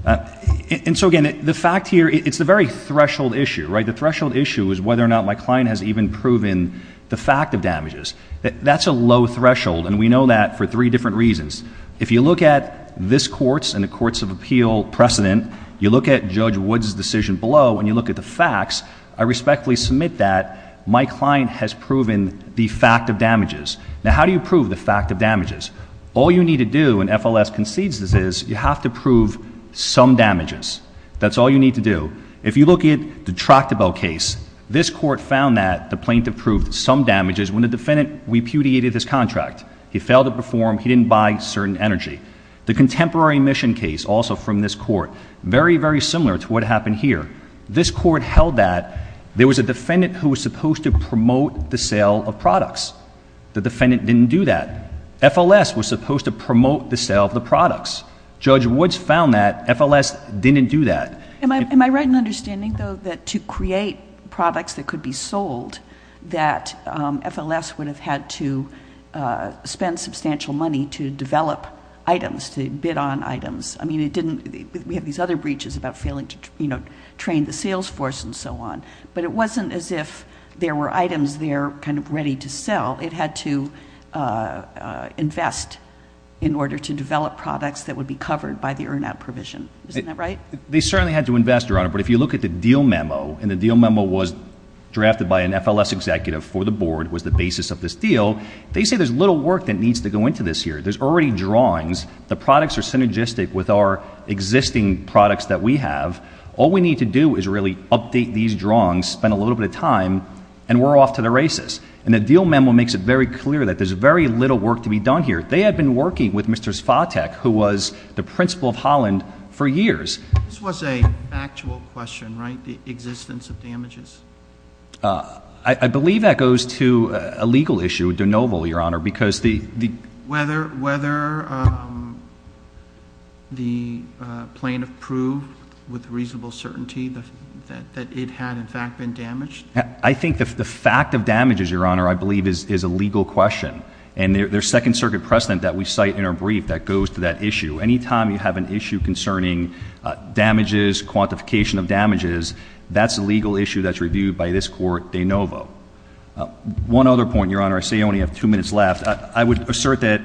And so, again, the fact here, it's a very threshold issue, right? The threshold issue is whether or not my client has even proven the fact of damages. That's a low threshold, and we know that for three different reasons. If you look at this courts and the courts of appeal precedent, you look at Judge Wood's decision below, and you look at the facts, I respectfully submit that my client has proven the fact of damages. Now, how do you prove the fact of damages? All you need to do in FLS concedes is you have to prove some damages. That's all you need to do. If you look at the Tractable case, this court found that the plaintiff proved some damages when the defendant repudiated his contract. He failed to perform. He didn't buy certain energy. The Contemporary Mission case, also from this court, very, very similar to what happened here. This court held that there was a defendant who was supposed to promote the sale of products. The defendant didn't do that. FLS was supposed to promote the sale of the products. Judge Woods found that. FLS didn't do that. Am I right in understanding, though, that to create products that could be sold, that FLS would have had to spend substantial money to develop items, to bid on items? I mean, it didn't – we have these other breaches about failing to, you know, train the sales force and so on. But it wasn't as if there were items there kind of ready to sell. It had to invest in order to develop products that would be covered by the EIRMAP provision. Isn't that right? They certainly had to invest, Your Honor. But if you look at the deal memo – and the deal memo was drafted by an FLS executive for the board, was the basis of this deal – they say there's little work that needs to go into this here. There's already drawings. The products are synergistic with our existing products that we have. All we need to do is really update these drawings, spend a little bit of time, and we're off to the races. And the deal memo makes it very clear that there's very little work to be done here. They had been working with Mr. Svatek, who was the principal of Holland, for years. This was an actual question, right, the existence of damages? I believe that goes to a legal issue with de Noble, Your Honor, because the – Whether the plaintiff proved with reasonable certainty that it had, in fact, been damaged? I think the fact of damages, Your Honor, I believe is a legal question. And there's Second Circuit precedent that we cite in our brief that goes to that issue. Anytime you have an issue concerning damages, quantification of damages, that's a legal issue that's reviewed by this court de Noble. One other point, Your Honor, I see I only have two minutes left. I would assert that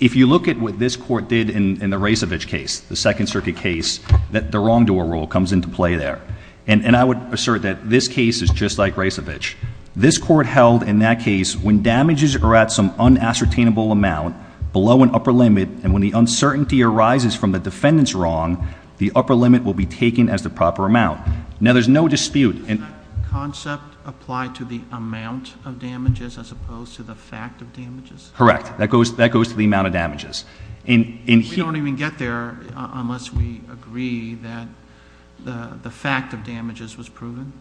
if you look at what this court did in the Rejcevich case, the Second Circuit case, that the wrongdoer rule comes into play there. And I would assert that this case is just like Rejcevich. This court held in that case when damages are at some unassertainable amount below an upper limit, and when the uncertainty arises from the defendant's wrong, the upper limit will be taken as the proper amount. Now, there's no dispute in that. Does the concept apply to the amount of damages as opposed to the fact of damages? Correct. That goes to the amount of damages. We don't even get there unless we agree that the fact of damages was proven?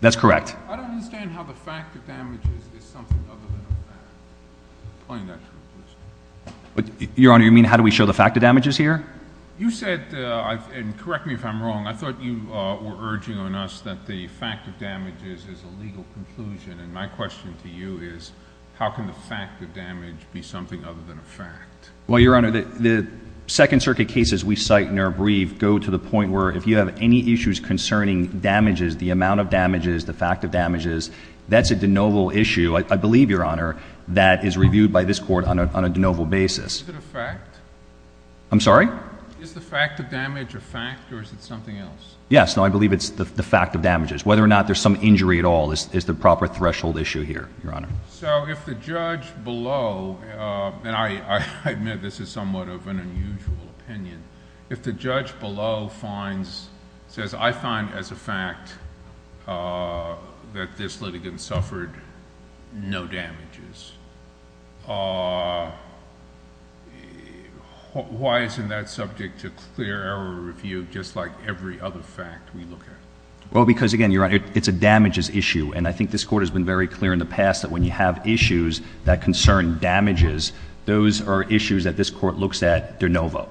That's correct. I don't understand how the fact of damages is something other than the fact. Your Honor, you mean how do we show the fact of damages here? You said, and correct me if I'm wrong, I thought you were urging on us that the fact of damages is a legal conclusion. And my question for you is, how can the fact of damage be something other than a fact? Well, Your Honor, the Second Circuit cases we cite and are briefed go to the point where if you have any issues concerning damages, the amount of damages, the fact of damages, that's a de novo issue, I believe, Your Honor, that is reviewed by this court on a de novo basis. Is it a fact? I'm sorry? Is the fact of damage a fact or is it something else? Yes. No, I believe it's the fact of damages. Whether or not there's some injury at all is the proper threshold issue here, Your Honor. So if the judge below, and I admit this is somewhat of an unusual opinion, if the judge below finds, says, I find as a fact that this litigant suffered no damages, why isn't that subject to clear error review just like every other fact we look at? Well, because, again, Your Honor, it's a damages issue. And I think this Court has been very clear in the past that when you have issues that concern damages, those are issues that this Court looks at de novo.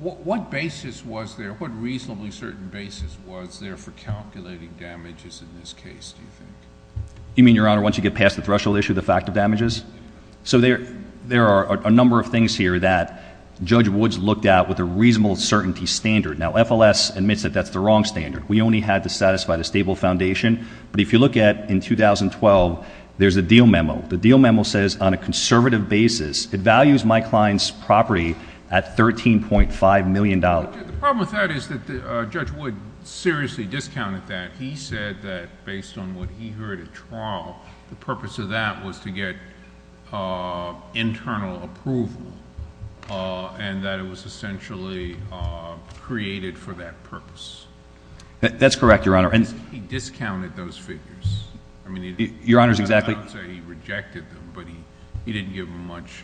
What basis was there, what reasonably certain basis was there for calculating damages in this case, do you think? You mean, Your Honor, once you get past the threshold issue, the fact of damages? So there are a number of things here that Judge Woods looked at with a reasonable certainty standard. Now, FLS admits that that's the wrong standard. We only had to satisfy the stable foundation. But if you look at in 2012, there's a deal memo. The deal memo says on a conservative basis, it values my client's property at $13.5 million. The problem with that is that Judge Woods seriously discounted that. He said that based on what he heard at trial, the purpose of that was to get internal approval and that it was essentially created for that purpose. That's correct, Your Honor. He discounted those figures. I mean, I'm not saying he rejected them, but he didn't give them much.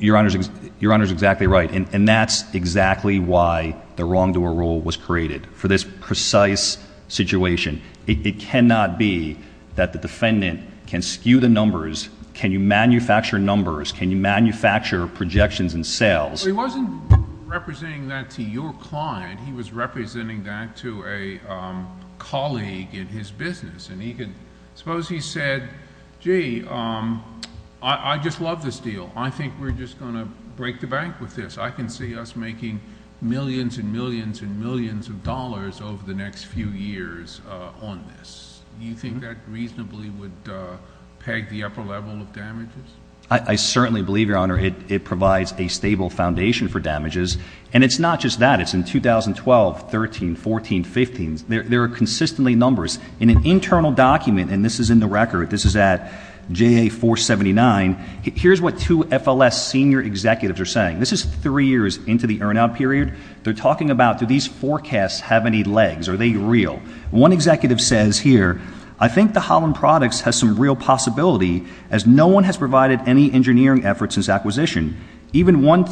Your Honor is exactly right. And that's exactly why the wrongdoer rule was created for this precise situation. It cannot be that the defendant can skew the numbers. Can you manufacture numbers? Can you manufacture projections and sales? He wasn't representing that to your client. He was representing that to a colleague in his business. And suppose he said, gee, I just love this deal. I think we're just going to break the bank with this. I can see us making millions and millions and millions of dollars over the next few years on this. Do you think that reasonably would peg the upper level of damages? I certainly believe, Your Honor, it provides a stable foundation for damages. And it's not just that. It's in 2012, 13, 14, 15. There are consistently numbers. In an internal document, and this is in the record, this is at JA 479, here's what two FLS senior executives are saying. This is three years into the earn-out period. They're talking about do these forecasts have any legs? Are they real? One executive says here, I think the Holland Products has some real possibility as no one has provided any engineering efforts since acquisition. Even one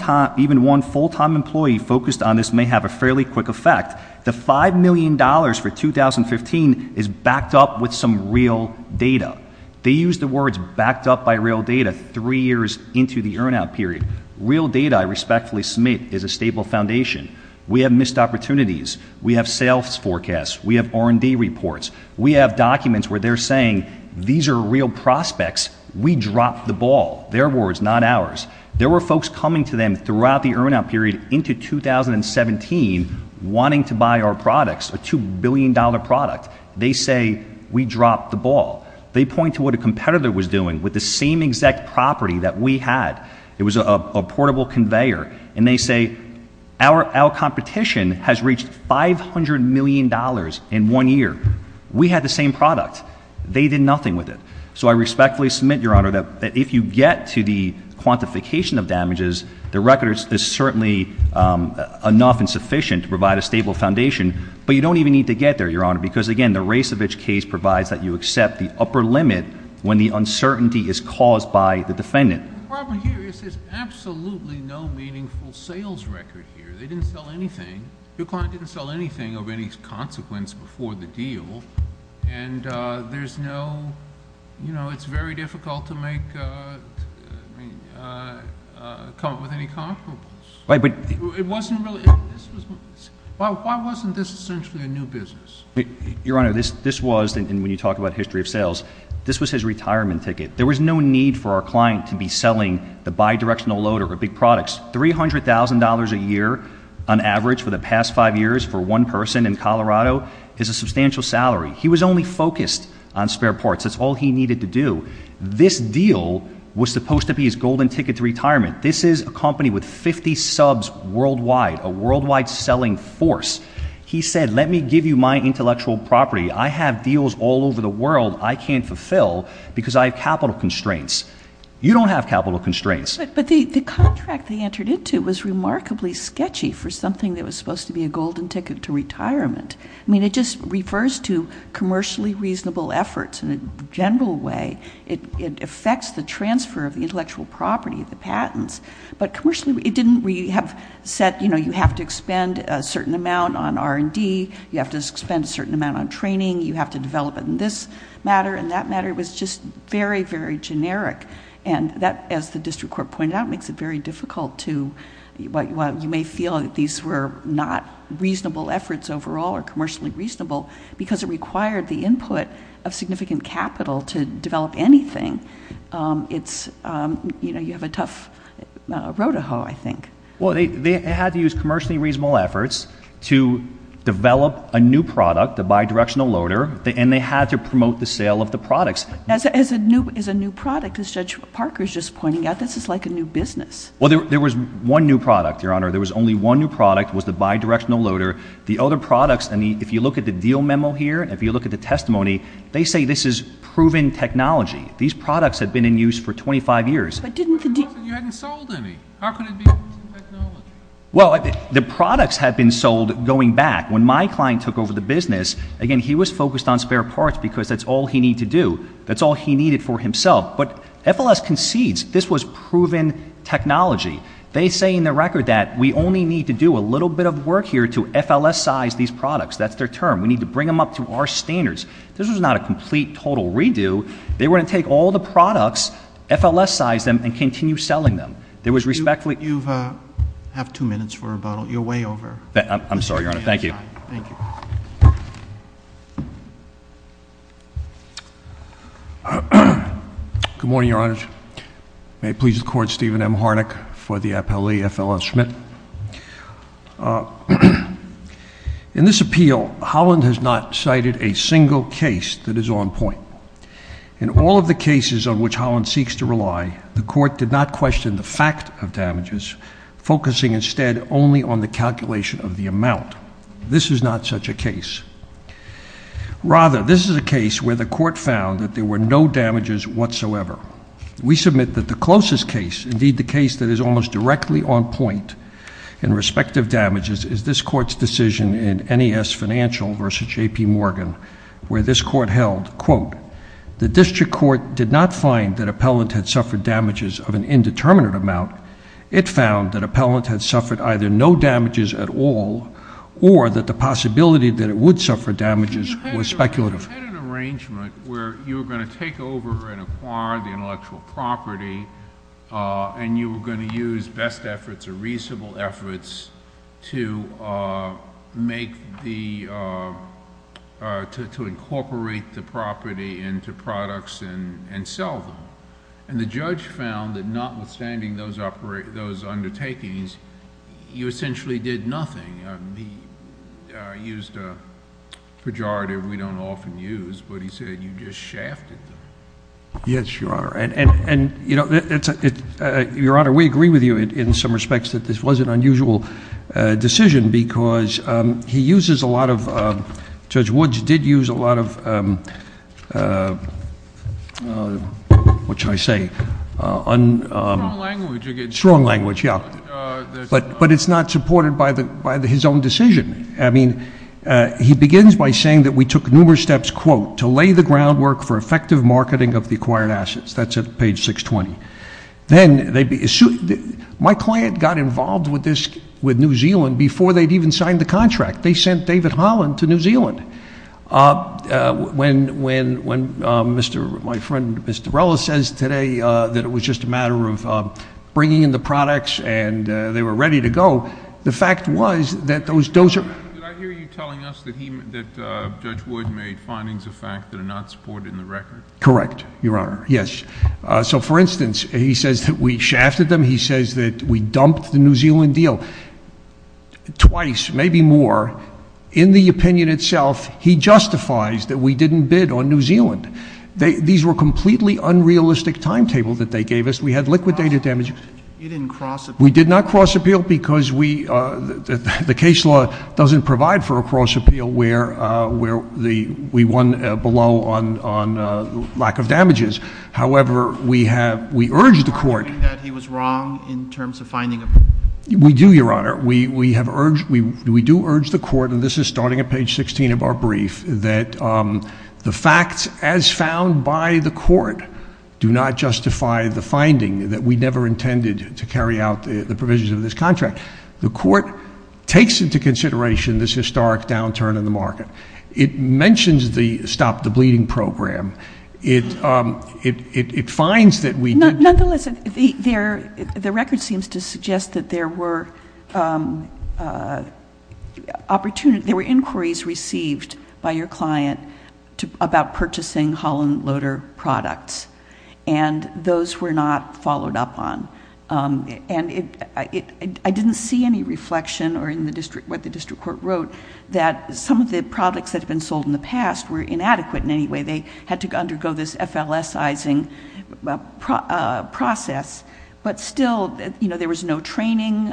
full-time employee focused on this may have a fairly quick effect. The $5 million for 2015 is backed up with some real data. They use the words backed up by real data three years into the earn-out period. Real data, I respectfully submit, is a stable foundation. We have missed opportunities. We have sales forecasts. We have R&D reports. We have documents where they're saying these are real prospects. We dropped the ball. Their words, not ours. There were folks coming to them throughout the earn-out period into 2017 wanting to buy our products, a $2 billion product. They say we dropped the ball. They point to what a competitor was doing with the same exact property that we had. It was a portable conveyor. And they say our competition has reached $500 million in one year. We had the same product. They did nothing with it. So I respectfully submit, Your Honor, that if you get to the quantification of damages, the record is certainly enough and sufficient to provide a stable foundation. But you don't even need to get there, Your Honor, because, again, provides that you accept the upper limit when the uncertainty is caused by the defendant. The problem here is there's absolutely no meaningful sales record here. They didn't sell anything. DuPont didn't sell anything of any consequence before the deal. And there's no ‑‑ you know, it's very difficult to make ‑‑ come up with any comparables. It wasn't really ‑‑ why wasn't this essentially a new business? Your Honor, this was, and when you talk about history of sales, this was his retirement ticket. There was no need for our client to be selling the bidirectional loader, the big products. $300,000 a year on average for the past five years for one person in Colorado is a substantial salary. He was only focused on spare parts. That's all he needed to do. This deal was supposed to be his golden ticket to retirement. This is a company with 50 subs worldwide, a worldwide selling force. He said, let me give you my intellectual property. I have deals all over the world I can't fulfill because I have capital constraints. You don't have capital constraints. But the contract they entered into was remarkably sketchy for something that was supposed to be a golden ticket to retirement. I mean, it just refers to commercially reasonable efforts in a general way. It affects the transfer of intellectual property, the patents. But commercially it didn't. We have said you have to expend a certain amount on R&D. You have to expend a certain amount on training. You have to develop it in this matter. And that matter was just very, very generic. And that, as the district court pointed out, makes it very difficult to, you may feel that these were not reasonable efforts overall or commercially reasonable because it required the input of significant capital to develop anything. You have a tough road to hoe, I think. Well, they had to use commercially reasonable efforts to develop a new product, a bidirectional loader, and they had to promote the sale of the products. As a new product, as Judge Parker is just pointing out, this is like a new business. Well, there was one new product, Your Honor. There was only one new product. It was the bidirectional loader. The other products, if you look at the deal memo here, if you look at the testimony, they say this is proven technology. These products have been in use for 25 years. But you hadn't sold any. How could it be proven technology? Well, the products had been sold going back. When my client took over the business, again, he was focused on spare parts because that's all he needed to do. That's all he needed for himself. But FLS concedes this was proven technology. They say in the record that we only need to do a little bit of work here to FLS-size these products. That's their term. We need to bring them up to our standards. This was not a complete, total redo. They were going to take all the products, FLS-size them, and continue selling them. You have two minutes for rebuttal. You're way over. I'm sorry, Your Honor. Thank you. Good morning, Your Honor. May it please the Court, Stephen M. Harnack for the appellee, FLS Schmidt. In this appeal, Holland has not cited a single case that is on point. In all of the cases on which Holland seeks to rely, the Court did not question the fact of damages, focusing instead only on the calculation of the amount. This is not such a case. Rather, this is a case where the Court found that there were no damages whatsoever. We submit that the closest case, indeed the case that is almost directly on point in respective damages, is this Court's decision in NES Financial v. J.P. Morgan, where this Court held, quote, the district court did not find that appellant had suffered damages of an indeterminate amount. It found that appellant had suffered either no damages at all, or that the possibility that it would suffer damages was speculative. You had an arrangement where you were going to take over and acquire intellectual property, and you were going to use best efforts or reasonable efforts to make the, to incorporate the property into products and sell them. And the judge found that notwithstanding those undertakings, you essentially did nothing. He used a pejorative we don't often use, but he said you just shafted him. Yes, Your Honor. And, you know, Your Honor, we agree with you in some respects that this was an unusual decision because he uses a lot of, Judge Woods did use a lot of, what should I say? Strong language. Strong language, yeah. But it's not supported by his own decision. I mean, he begins by saying that we took numerous steps, quote, to lay the groundwork for effective marketing of the acquired assets. That's at page 620. Then, my client got involved with New Zealand before they'd even signed the contract. They sent David Holland to New Zealand. When my friend, Mr. Rella, says today that it was just a matter of bringing in the products and they were ready to go, the fact was that those are— Did I hear you telling us that Judge Woods made findings of fact that are not supported in the record? Correct, Your Honor, yes. So, for instance, he says that we shafted them. He says that we dumped the New Zealand deal twice, maybe more. In the opinion itself, he justifies that we didn't bid on New Zealand. These were completely unrealistic timetables that they gave us. We had liquidated damages. You didn't cross-appeal. We did not cross-appeal because we—the case law doesn't provide for a cross-appeal where we won below on lack of damages. However, we have—we urged the court— Are you saying that he was wrong in terms of finding— We do, Your Honor. We do urge the court, and this is starting at page 16 of our brief, that the facts as found by the court do not justify the finding that we never intended to carry out the provisions of this contract. The court takes into consideration this historic downturn in the market. It mentions the Stop the Bleeding program. It finds that we— Nonetheless, the record seems to suggest that there were opportunities— there were inquiries received by your client about purchasing Holland Loader products, and those were not followed up on. And I didn't see any reflection or in what the district court wrote that some of the products that had been sold in the past were inadequate in any way. They had to undergo this FLS-izing process. But still, there was no training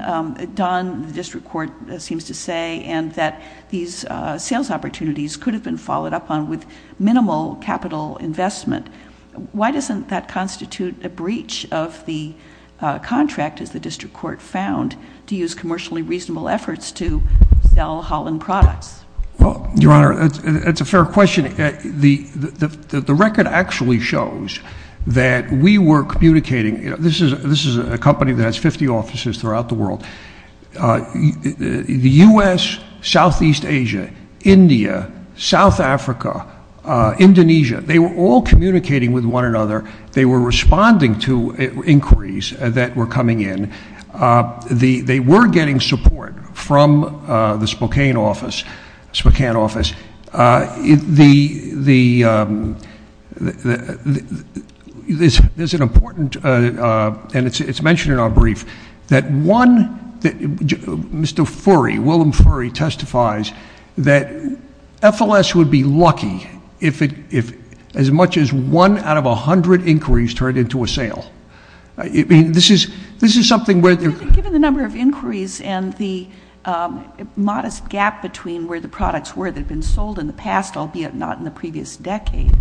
done, the district court seems to say, and that these sales opportunities could have been followed up on with minimal capital investment. Why doesn't that constitute a breach of the contract, as the district court found, to use commercially reasonable efforts to sell Holland products? Your Honor, that's a fair question. The record actually shows that we were communicating— this is a company that has 50 offices throughout the world. The U.S., Southeast Asia, India, South Africa, Indonesia, they were all communicating with one another. They were responding to inquiries that were coming in. They were getting support from the Spokane office. There's an important—and it's mentioned in our brief— that one—Mr. Furry, Willem Furry, testifies that FLS would be lucky if as much as one out of 100 inquiries turned into a sale. This is something where— Given the number of inquiries and the modest gap between where the products were that have been sold in the past, albeit not in the previous decade,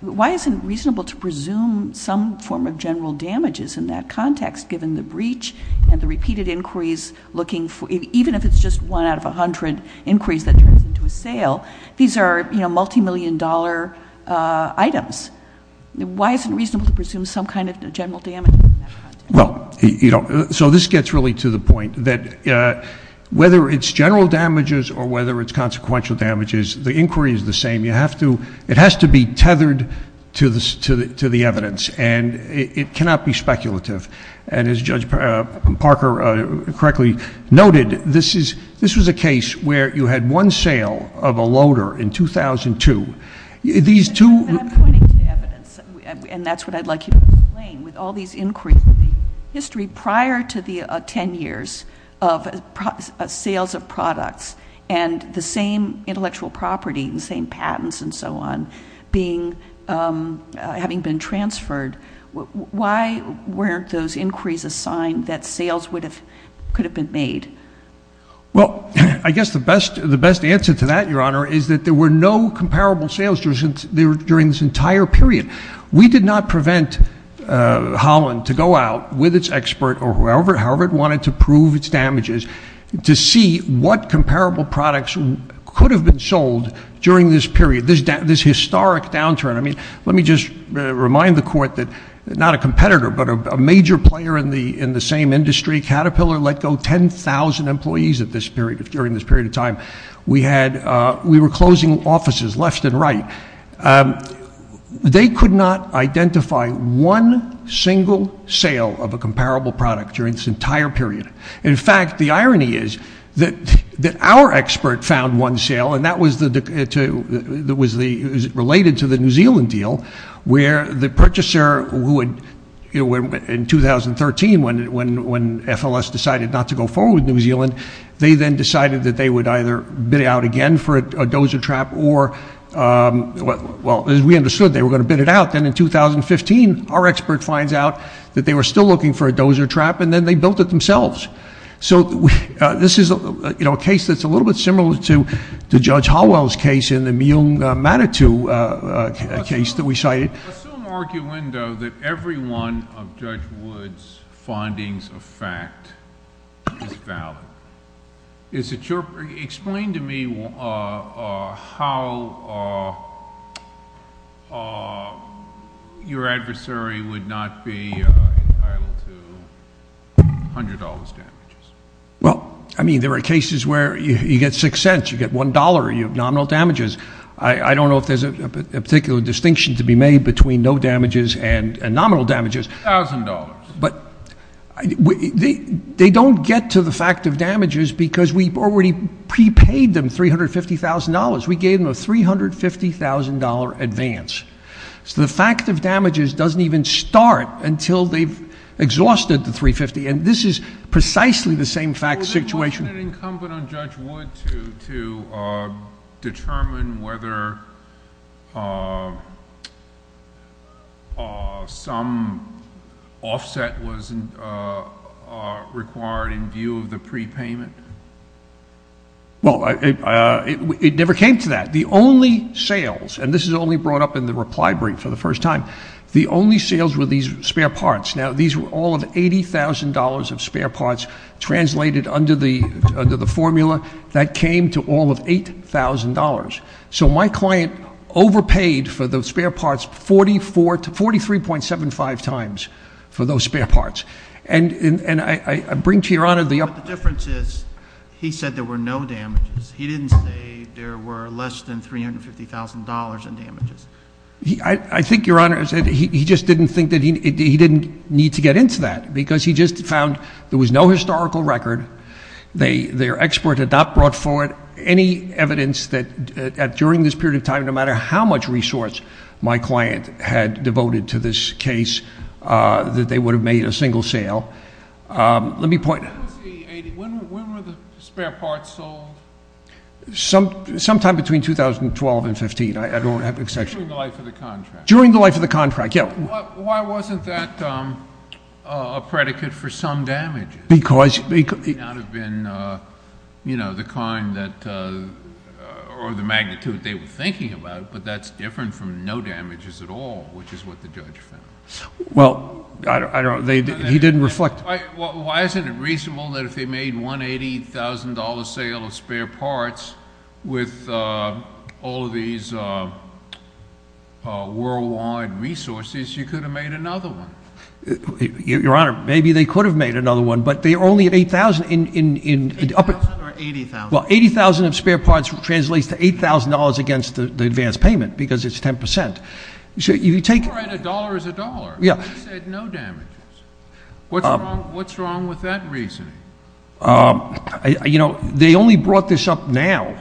why isn't it reasonable to presume some form of general damages in that context, given the breach and the repeated inquiries looking for— even if it's just one out of 100 inquiries that turned into a sale, these are multimillion-dollar items. Why isn't it reasonable to presume some kind of general damage? Well, so this gets really to the point that whether it's general damages or whether it's consequential damages, the inquiry is the same. It has to be tethered to the evidence, and it cannot be speculative. And as Judge Parker correctly noted, this was a case where you had one sale of a loader in 2002. But I'm pointing to evidence, and that's what I'd like you to explain. With all these inquiries in history prior to the 10 years of sales of products and the same intellectual property and the same patents and so on having been transferred, why weren't those inquiries a sign that sales could have been made? Well, I guess the best answer to that, Your Honor, is that there were no comparable sales during this entire period. We did not prevent Holland to go out with its expert or however it wanted to prove its damages to see what comparable products could have been sold during this period, this historic downturn. I mean, let me just remind the Court that not a competitor, but a major player in the same industry, we were closing offices left and right. They could not identify one single sale of a comparable product during this entire period. In fact, the irony is that our expert found one sale, and that was related to the New Zealand deal, where the purchaser, in 2013, when FLS decided not to go forward with New Zealand, they then decided that they would either bid out again for a dozer trap or, well, as we understood, they were going to bid it out. Then in 2015, our expert finds out that they were still looking for a dozer trap, and then they built it themselves. So this is a case that's a little bit similar to Judge Hallwell's case and the Mium Matatu case that we cited. There's some argument, though, that every one of Judge Wood's findings of fact is valid. Explain to me how your adversary would not be entitled to $100 damages. Well, I mean, there are cases where you get $0.06, you get $1, you have nominal damages. I don't know if there's a particular distinction to be made between no damages and nominal damages. $1,000. But they don't get to the fact of damages because we've already prepaid them $350,000. We gave them a $350,000 advance. So the fact of damages doesn't even start until they've exhausted the $350,000, and this is precisely the same fact situation. Wasn't it incumbent on Judge Wood to determine whether some offset was required in view of the prepayment? Well, it never came to that. The only sales, and this is only brought up in the reply brief for the first time, the only sales were these spare parts. Now, these were all of $80,000 of spare parts translated under the formula. That came to all of $8,000. So my client overpaid for those spare parts 44 to 43.75 times for those spare parts. And I bring to Your Honor the uptick. But the difference is he said there were no damages. He didn't say there were less than $350,000 in damages. I think, Your Honor, he just didn't think that he didn't need to get into that because he just found there was no historical record. Their expert had not brought forward any evidence that during this period of time, no matter how much resource my client had devoted to this case, that they would have made a single sale. Let me point out. When were the spare parts sold? Sometime between 2012 and 2015. I don't have an exception. During the life of the contract. During the life of the contract, yeah. Why wasn't that a predicate for some damage? Because. It may not have been, you know, the magnitude they were thinking about, but that's different from no damages at all, which is what the judge said. Well, I don't know. He didn't reflect. Why isn't it reasonable that if they made $180,000 sale of spare parts with all of these worldwide resources, you could have made another one? Your Honor, maybe they could have made another one, but they only had $80,000. $80,000 or $80,000. Well, $80,000 of spare parts translates to $8,000 against the advance payment because it's 10%. You can write a dollar as a dollar. Yeah. I said no damages. What's wrong with that reasoning? You know, they only brought this up now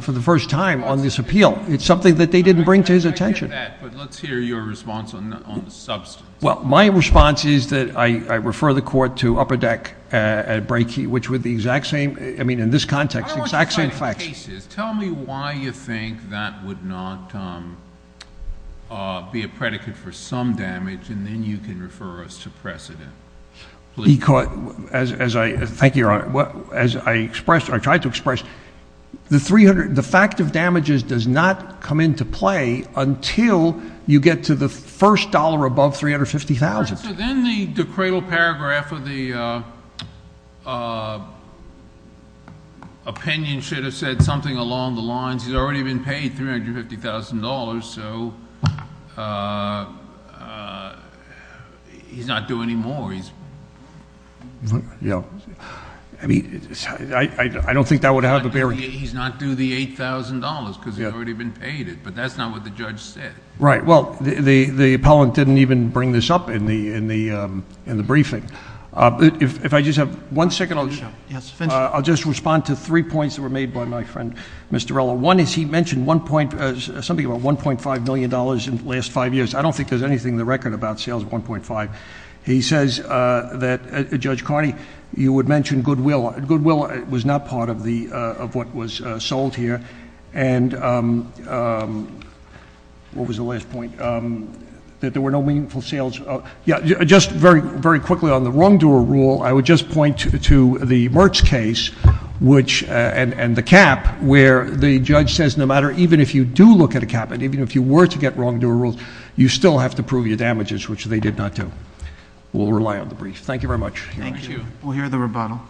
for the first time on this appeal. It's something that they didn't bring to his attention. I get that, but let's hear your response on the substance. Well, my response is that I refer the court to upper deck at breakey, which would be the exact same. I mean, in this context, the exact same facts. Tell me why you think that would not be a predicate for some damage, and then you can refer us to precedent. Thank you, Your Honor. As I tried to express, the fact of damages does not come into play until you get to the first dollar above $350,000. So then the cradle paragraph of the opinion should have said something along the lines, he's already been paid $350,000, so he's not due any more. Yeah. I mean, I don't think that would have a bearing. He's not due the $8,000 because he's already been paid it, but that's not what the judge said. Right. Well, the appellant didn't even bring this up in the briefing. If I just have one second, I'll just respond to three points that were made by my friend, Mr. Rella. One is he mentioned something about $1.5 million in the last five years. I don't think there's anything in the record about sales of 1.5. He says that, Judge Carney, you would mention goodwill. Goodwill was not part of what was sold here. And what was the last point? That there were no meaningful sales. Just very quickly on the wrongdoer rule, I would just point to the Merck's case and the cap where the judge says no matter, even if you do look at a cap, even if you were to get wrongdoer rules, you still have to prove your damages, which they did not do. We'll rely on the brief. Thank you very much. Thank you. We'll hear the rebuttal.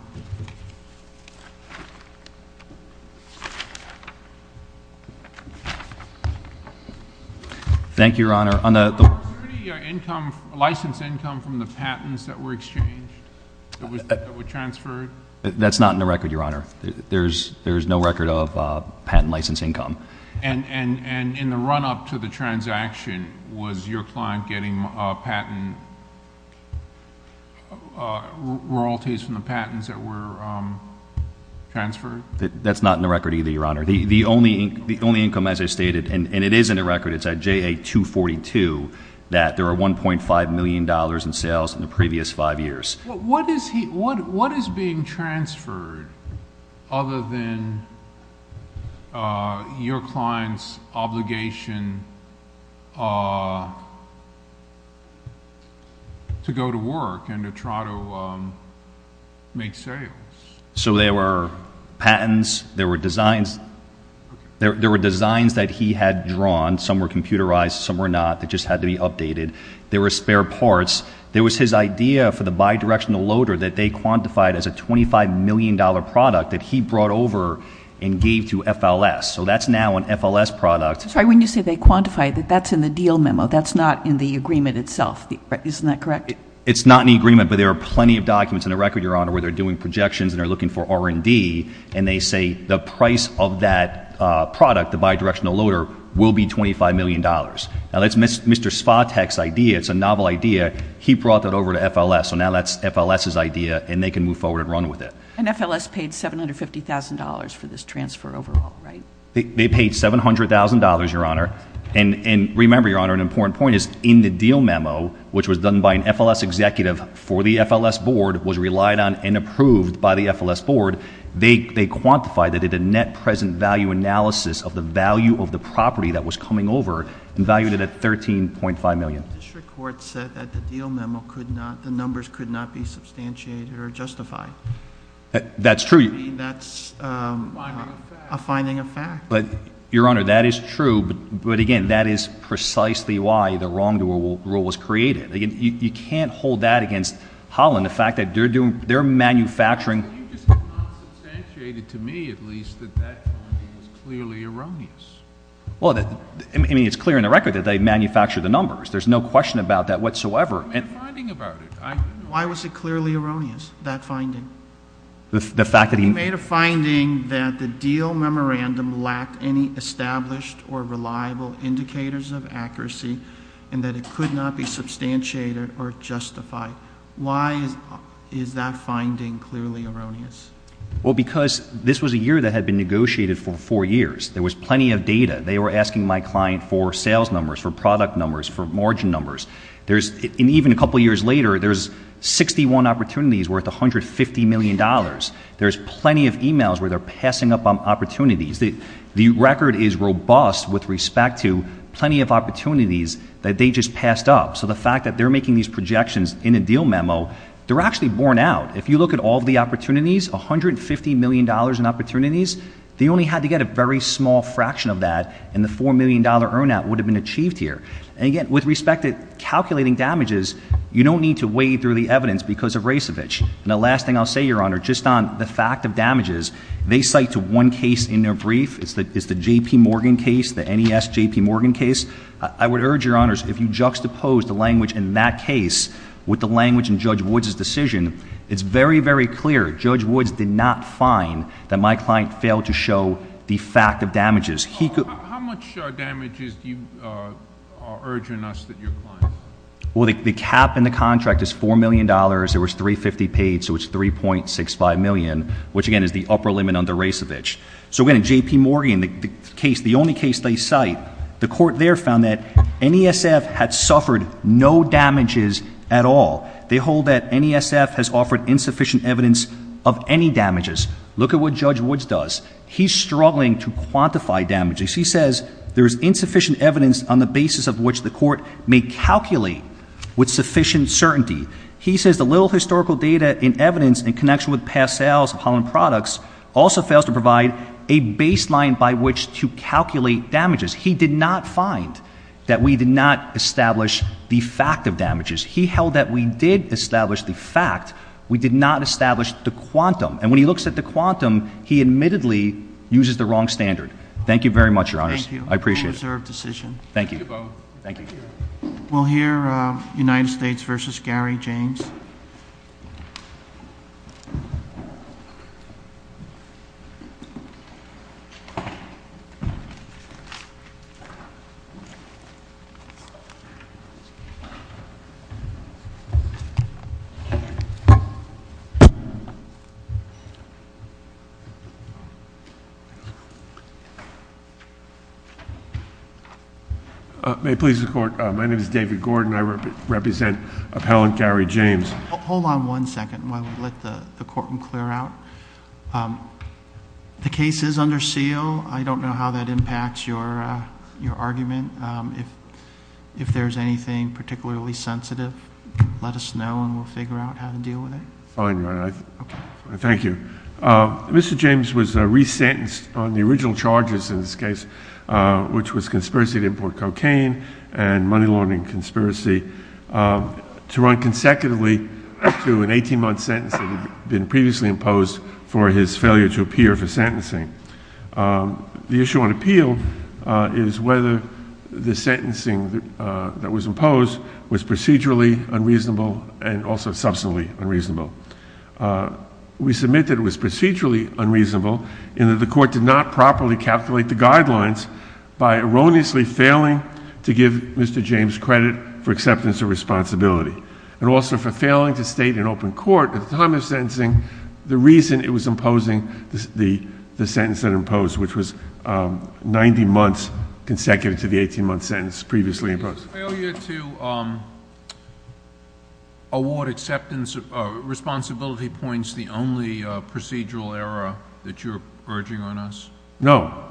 Thank you, Your Honor. Did you get license income from the patents that were exchanged, that were transferred? That's not in the record, Your Honor. There is no record of patent license income. And in the run-up to the transaction, was your client getting patent royalties from the patents? That's not in the record either, Your Honor. The only income, as I stated, and it is in the record, it's at JA-242, that there were $1.5 million in sales in the previous five years. What is being transferred other than your client's obligation to go to work and to try to make sales? So there were patents. There were designs. There were designs that he had drawn. Some were computerized. Some were not. They just had to be updated. There were spare parts. There was his idea for the bidirectional loader that they quantified as a $25 million product that he brought over and gave to FLS. So that's now an FLS product. Sorry, when you say they quantified, that's in the deal memo. That's not in the agreement itself. Isn't that correct? It's not in the agreement, but there are plenty of documents in the record, Your Honor, where they're doing projections and they're looking for R&D, and they say the price of that product, the bidirectional loader, will be $25 million. Now, that's Mr. Spahtek's idea. It's a novel idea. He brought that over to FLS, so now that's FLS's idea, and they can move forward and run with it. And FLS paid $750,000 for this transfer overall, right? They paid $700,000, Your Honor. And remember, Your Honor, an important point is in the deal memo, which was done by an FLS executive for the FLS board, was relied on and approved by the FLS board, they quantified it at a net present value analysis of the value of the property that was coming over and valued it at $13.5 million. This report said that the deal memo could not, the numbers could not be substantiated or justified. That's true. That's a finding of fact. But, Your Honor, that is true, but, again, that is precisely why the wrongdoer rule was created. You can't hold that against Holland, the fact that they're manufacturing. It's clear to me, at least, that that finding is clearly erroneous. Well, I mean, it's clear in the record that they manufactured the numbers. There's no question about that whatsoever. Why was it clearly erroneous, that finding? The fact that he made a finding that the deal memorandum lacked any established or reliable indicators of accuracy and that it could not be substantiated or justified. Why is that finding clearly erroneous? Well, because this was a year that had been negotiated for four years. There was plenty of data. They were asking my client for sales numbers, for product numbers, for margin numbers. And even a couple years later, there's 61 opportunities worth $150 million. There's plenty of emails where they're passing up on opportunities. The record is robust with respect to plenty of opportunities that they just passed up. So the fact that they're making these projections in a deal memo, they're actually borne out. If you look at all the opportunities, $150 million in opportunities, they only had to get a very small fraction of that and the $4 million earn-out would have been achieved here. And, again, with respect to calculating damages, you don't need to wade through the evidence because of Rasevich. And the last thing I'll say, Your Honor, just on the fact of damages, they cite one case in their brief. It's the J.P. Morgan case, the N.E.S. J.P. Morgan case. I would urge, Your Honors, if you juxtapose the language in that case with the language in Judge Woods' decision, it's very, very clear Judge Woods did not find that my client failed to show the fact of damages. How much damages are you urging us that your client failed to show? Well, the cap in the contract is $4 million. There was $350 paid, so it's $3.65 million, which, again, is the upper limit under Rasevich. So, again, J.P. Morgan, the only case they cite, the court there found that N.E.S.F. had suffered no damages at all. They hold that N.E.S.F. has offered insufficient evidence of any damages. Look at what Judge Woods does. He's struggling to quantify damages. He says there is insufficient evidence on the basis of which the court may calculate with sufficient certainty. He says the little historical data in evidence in connection with past sales of Holland Products also fails to provide a baseline by which to calculate damages. He did not find that we did not establish the fact of damages. He held that we did establish the fact. We did not establish the quantum. And when he looks at the quantum, he admittedly uses the wrong standard. Thank you very much, Your Honor. Thank you. I appreciate it. Thank you. We'll hear United States v. Gary James. May it please the Court, my name is David Gordon. I represent appellant Gary James. Hold on one second while we let the courtman clear out. The case is under seal. I don't know how that impacts your argument. If there's anything particularly sensitive, let us know and we'll figure out how to deal with it. Fine, Your Honor. Thank you. Mr. James was re-sentenced on the original charges in this case, which was conspiracy to import cocaine and money laundering conspiracy, to run consecutively through an 18-month sentence that had been previously imposed for his failure to appear for sentencing. The issue on appeal is whether the sentencing that was imposed was procedurally unreasonable and also substantively unreasonable. We submit that it was procedurally unreasonable and that the court did not properly calculate the guidelines by erroneously failing to give Mr. James credit for acceptance of responsibility and also for failing to state in open court at the time of sentencing the reason it was imposing the sentence that it imposed, which was 90 months consecutive to the 18-month sentence previously imposed. Was failure to award acceptance of responsibility points the only procedural error that you're urging on us? No.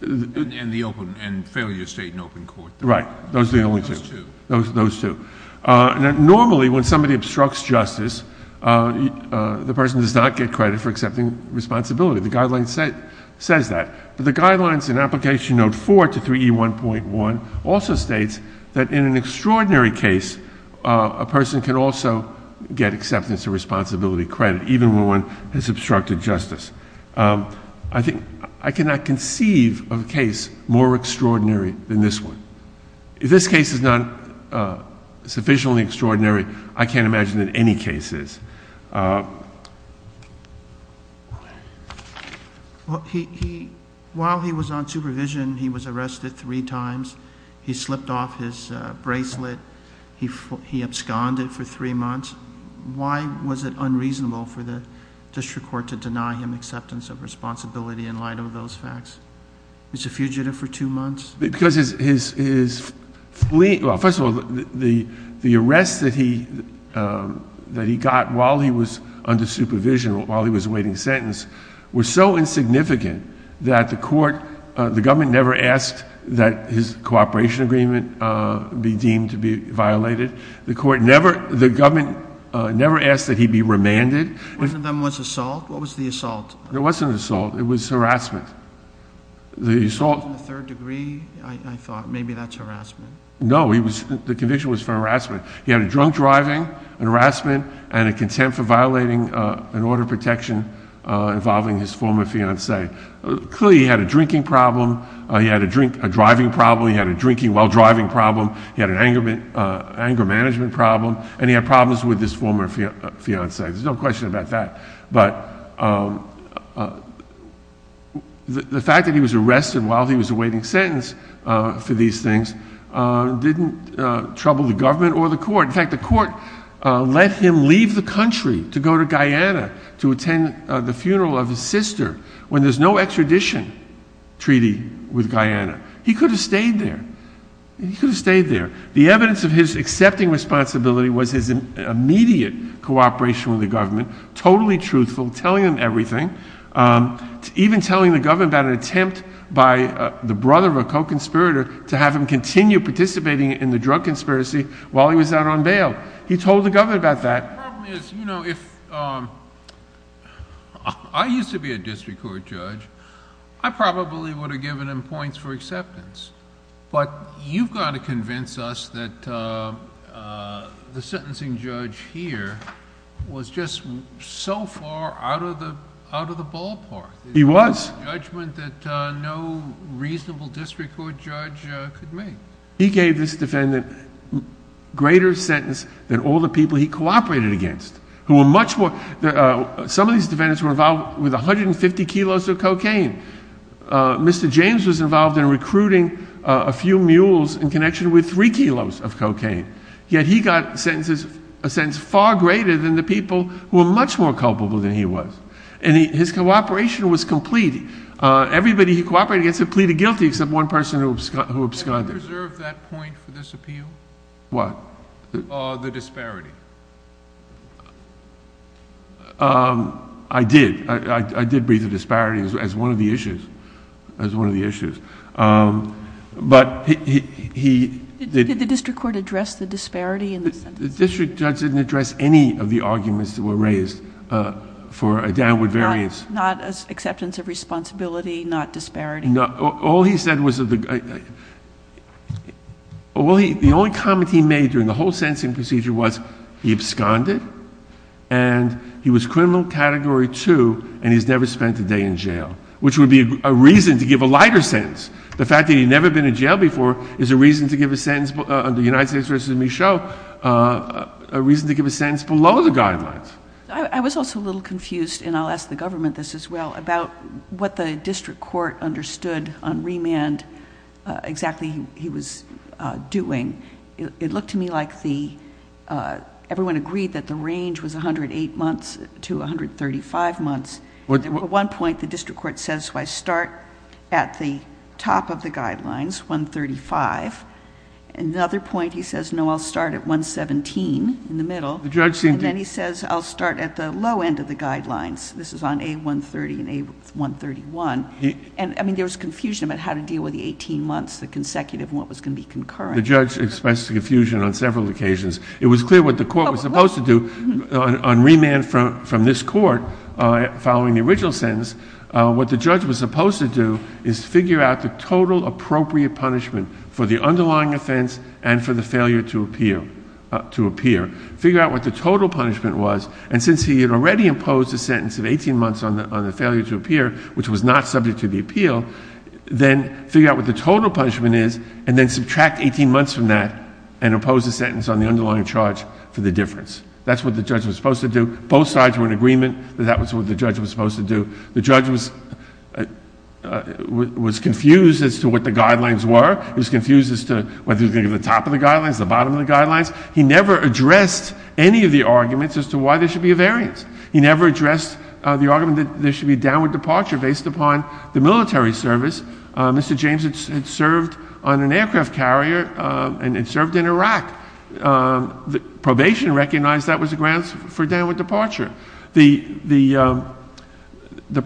And failure to state in open court. Right. Those two. Those two. Normally, when somebody obstructs justice, the person does not get credit for accepting responsibility. The guideline says that. But the guidelines in Application Note 4 to 3E1.1 also states that in an extraordinary case, a person can also get acceptance of responsibility credit, even when one has obstructed justice. I cannot conceive of a case more extraordinary than this one. If this case is not sufficiently extraordinary, I can't imagine that any case is. While he was on supervision, he was arrested three times. He slipped off his bracelet. He absconded for three months. Why was it unreasonable for the district court to deny him acceptance of responsibility in light of those facts? He was a fugitive for two months. First of all, the arrest that he got while he was under supervision, while he was awaiting sentence, was so insignificant that the government never asked that his cooperation agreement be deemed to be violated. The government never asked that he be remanded. Wasn't that an assault? What was the assault? It wasn't an assault. It was harassment. An assault in the third degree? I thought maybe that's harassment. No, the conviction was for harassment. He had a drunk driving, an harassment, and a contempt for violating an order of protection involving his former fiancée. Clearly, he had a drinking problem. He had a driving problem. He had a drinking while driving problem. He had an anger management problem. And he had problems with his former fiancée. There's no question about that. But the fact that he was arrested while he was awaiting sentence for these things didn't trouble the government or the court. In fact, the court let him leave the country to go to Guyana to attend the funeral of his sister when there's no extradition treaty with Guyana. He could have stayed there. He could have stayed there. The evidence of his accepting responsibility was his immediate cooperation with the government, totally truthful, telling him everything, even telling the government about an attempt by the brother of a co-conspirator to have him continue participating in the drug conspiracy while he was out on bail. He told the government about that. The problem is, you know, if I used to be a district court judge, I probably would have given him points for acceptance. But you've got to convince us that the sentencing judge here was just so far out of the ballpark. He was. It was a judgment that no reasonable district court judge could make. He gave this defendant a greater sentence than all the people he cooperated against. Some of these defendants were involved with 150 kilos of cocaine. Mr. James was involved in recruiting a few mules in connection with three kilos of cocaine. Yet he got a sentence far greater than the people who were much more culpable than he was. And his cooperation was complete. Everybody he cooperated against had pleaded guilty except one person who absconded. Did you reserve that point for this appeal? What? The disparity. I did. I did raise the disparity as one of the issues. As one of the issues. But he. Did the district court address the disparity? The district judge didn't address any of the arguments that were raised for a downward variance. Not acceptance of responsibility, not disparity. All he said was. The only comment he made during the whole sentencing procedure was he absconded. And he was criminal category two. And he's never spent a day in jail. Which would be a reason to give a lighter sentence. The fact that he'd never been in jail before is a reason to give a sentence. The United States versus Michel. A reason to give a sentence below the guidelines. I was also a little confused, and I'll ask the government this as well, about what the district court understood on remand exactly he was doing. It looked to me like everyone agreed that the range was 108 months to 135 months. At one point the district court says I start at the top of the guidelines, 135. At another point he says, no, I'll start at 117 in the middle. And then he says, I'll start at the low end of the guidelines. This is on A130 and A131. And, I mean, there's confusion about how to deal with the 18 months, the consecutive and what was going to be concurrent. The judge expressed confusion on several occasions. It was clear what the court was supposed to do on remand from this court following the original sentence. What the judge was supposed to do is figure out the total appropriate punishment for the underlying offense and for the failure to appear. Figure out what the total punishment was. And since he had already imposed a sentence of 18 months on the failure to appear, which was not subject to the appeal, then figure out what the total punishment is and then subtract 18 months from that and impose a sentence on the underlying charge for the difference. That's what the judge was supposed to do. Both sides were in agreement that that was what the judge was supposed to do. The judge was confused as to what the guidelines were. He was confused as to whether he was going to do the top of the guidelines, the bottom of the guidelines. He never addressed any of the arguments as to why there should be a variance. He never addressed the argument that there should be downward departure based upon the military service. Mr. James had served on an aircraft carrier and had served in Iraq. Probation recognized that was a grant for downward departure. The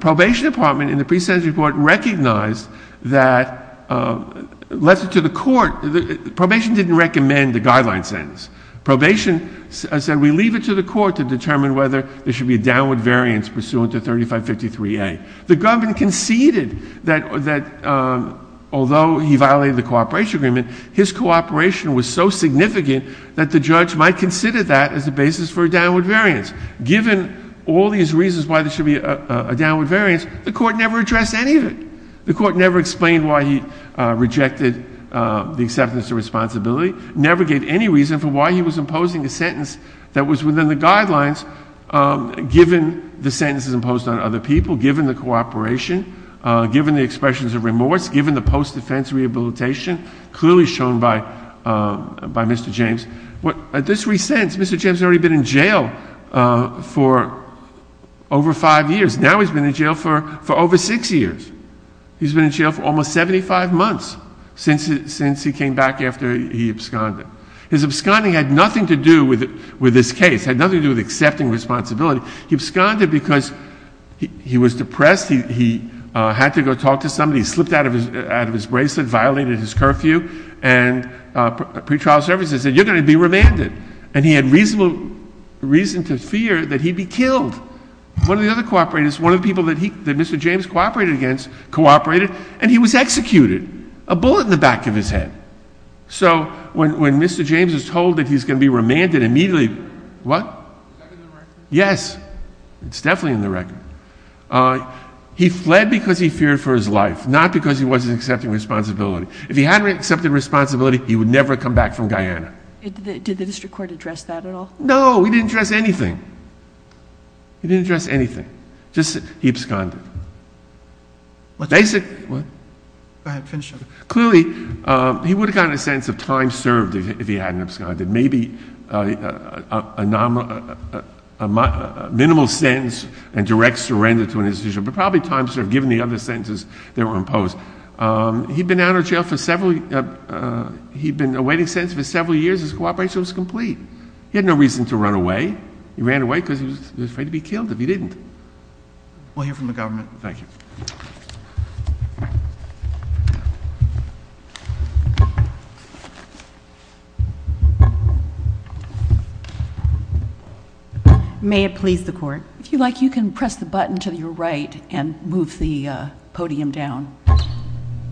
probation department in the pre-sentence report recognized that, led it to the court. Probation didn't recommend the guideline sentence. Probation said we leave it to the court to determine whether there should be a downward variance pursuant to 3553A. The government conceded that although he violated the cooperation agreement, his cooperation was so significant that the judge might consider that as the basis for a downward variance. Given all these reasons why there should be a downward variance, the court never addressed any of it. The court never explained why he rejected the acceptance of responsibility, never gave any reason for why he was imposing a sentence that was within the guidelines, given the sentences imposed on other people, given the cooperation, given the expressions of remorse, given the post-defense rehabilitation clearly shown by Mr. James. At this recent, Mr. James had already been in jail for over five years. Now he's been in jail for over six years. He's been in jail for almost 75 months since he came back after he absconded. His absconding had nothing to do with this case. It had nothing to do with accepting responsibility. He absconded because he was depressed. He had to go talk to somebody. He slipped out of his bracelet, violated his curfew, and pre-trial services. The judge said he'd be remanded. And he had reason to fear that he'd be killed. One of the other cooperators, one of the people that Mr. James cooperated against, cooperated, and he was executed, a bullet in the back of his head. So when Mr. James was told that he was going to be remanded, immediately, what? Yes, it's definitely in the record. He fled because he feared for his life, not because he wasn't accepting responsibility. If he hadn't accepted responsibility, he would never have come back from Guyana. Did the district court address that at all? No, he didn't address anything. He didn't address anything. Just that he absconded. Basically, clearly, he would have gotten a sense of time served if he hadn't absconded. Maybe a minimal sentence and direct surrender to an institution, but probably time served given the other sentences that were imposed. He'd been out of jail for several years. He'd been awaiting sentence for several years. His cooperation was complete. He had no reason to run away. He ran away because he was afraid to be killed if he didn't. We'll hear from the government. Thank you. May it please the Court. If you'd like, you can press the button to your right and move the podium down. It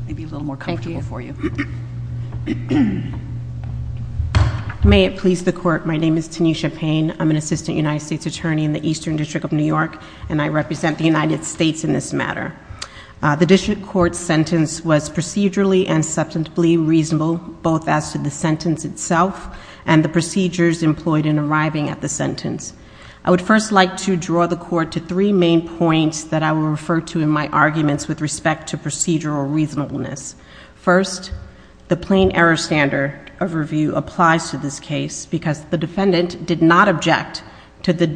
may be a little more comfortable for you. May it please the Court. My name is Tanisha Payne. I'm an Assistant United States Attorney in the Eastern District of New York, and I represent the United States in this matter. The district court's sentence was procedurally and substantively reasonable, both as to the sentence itself and the procedures employed in arriving at the sentence. I would first like to draw the Court to three main points that I will refer to in my arguments with respect to procedural reasonableness. First, the plain error standard of review applies to this case because the defendant did not object to the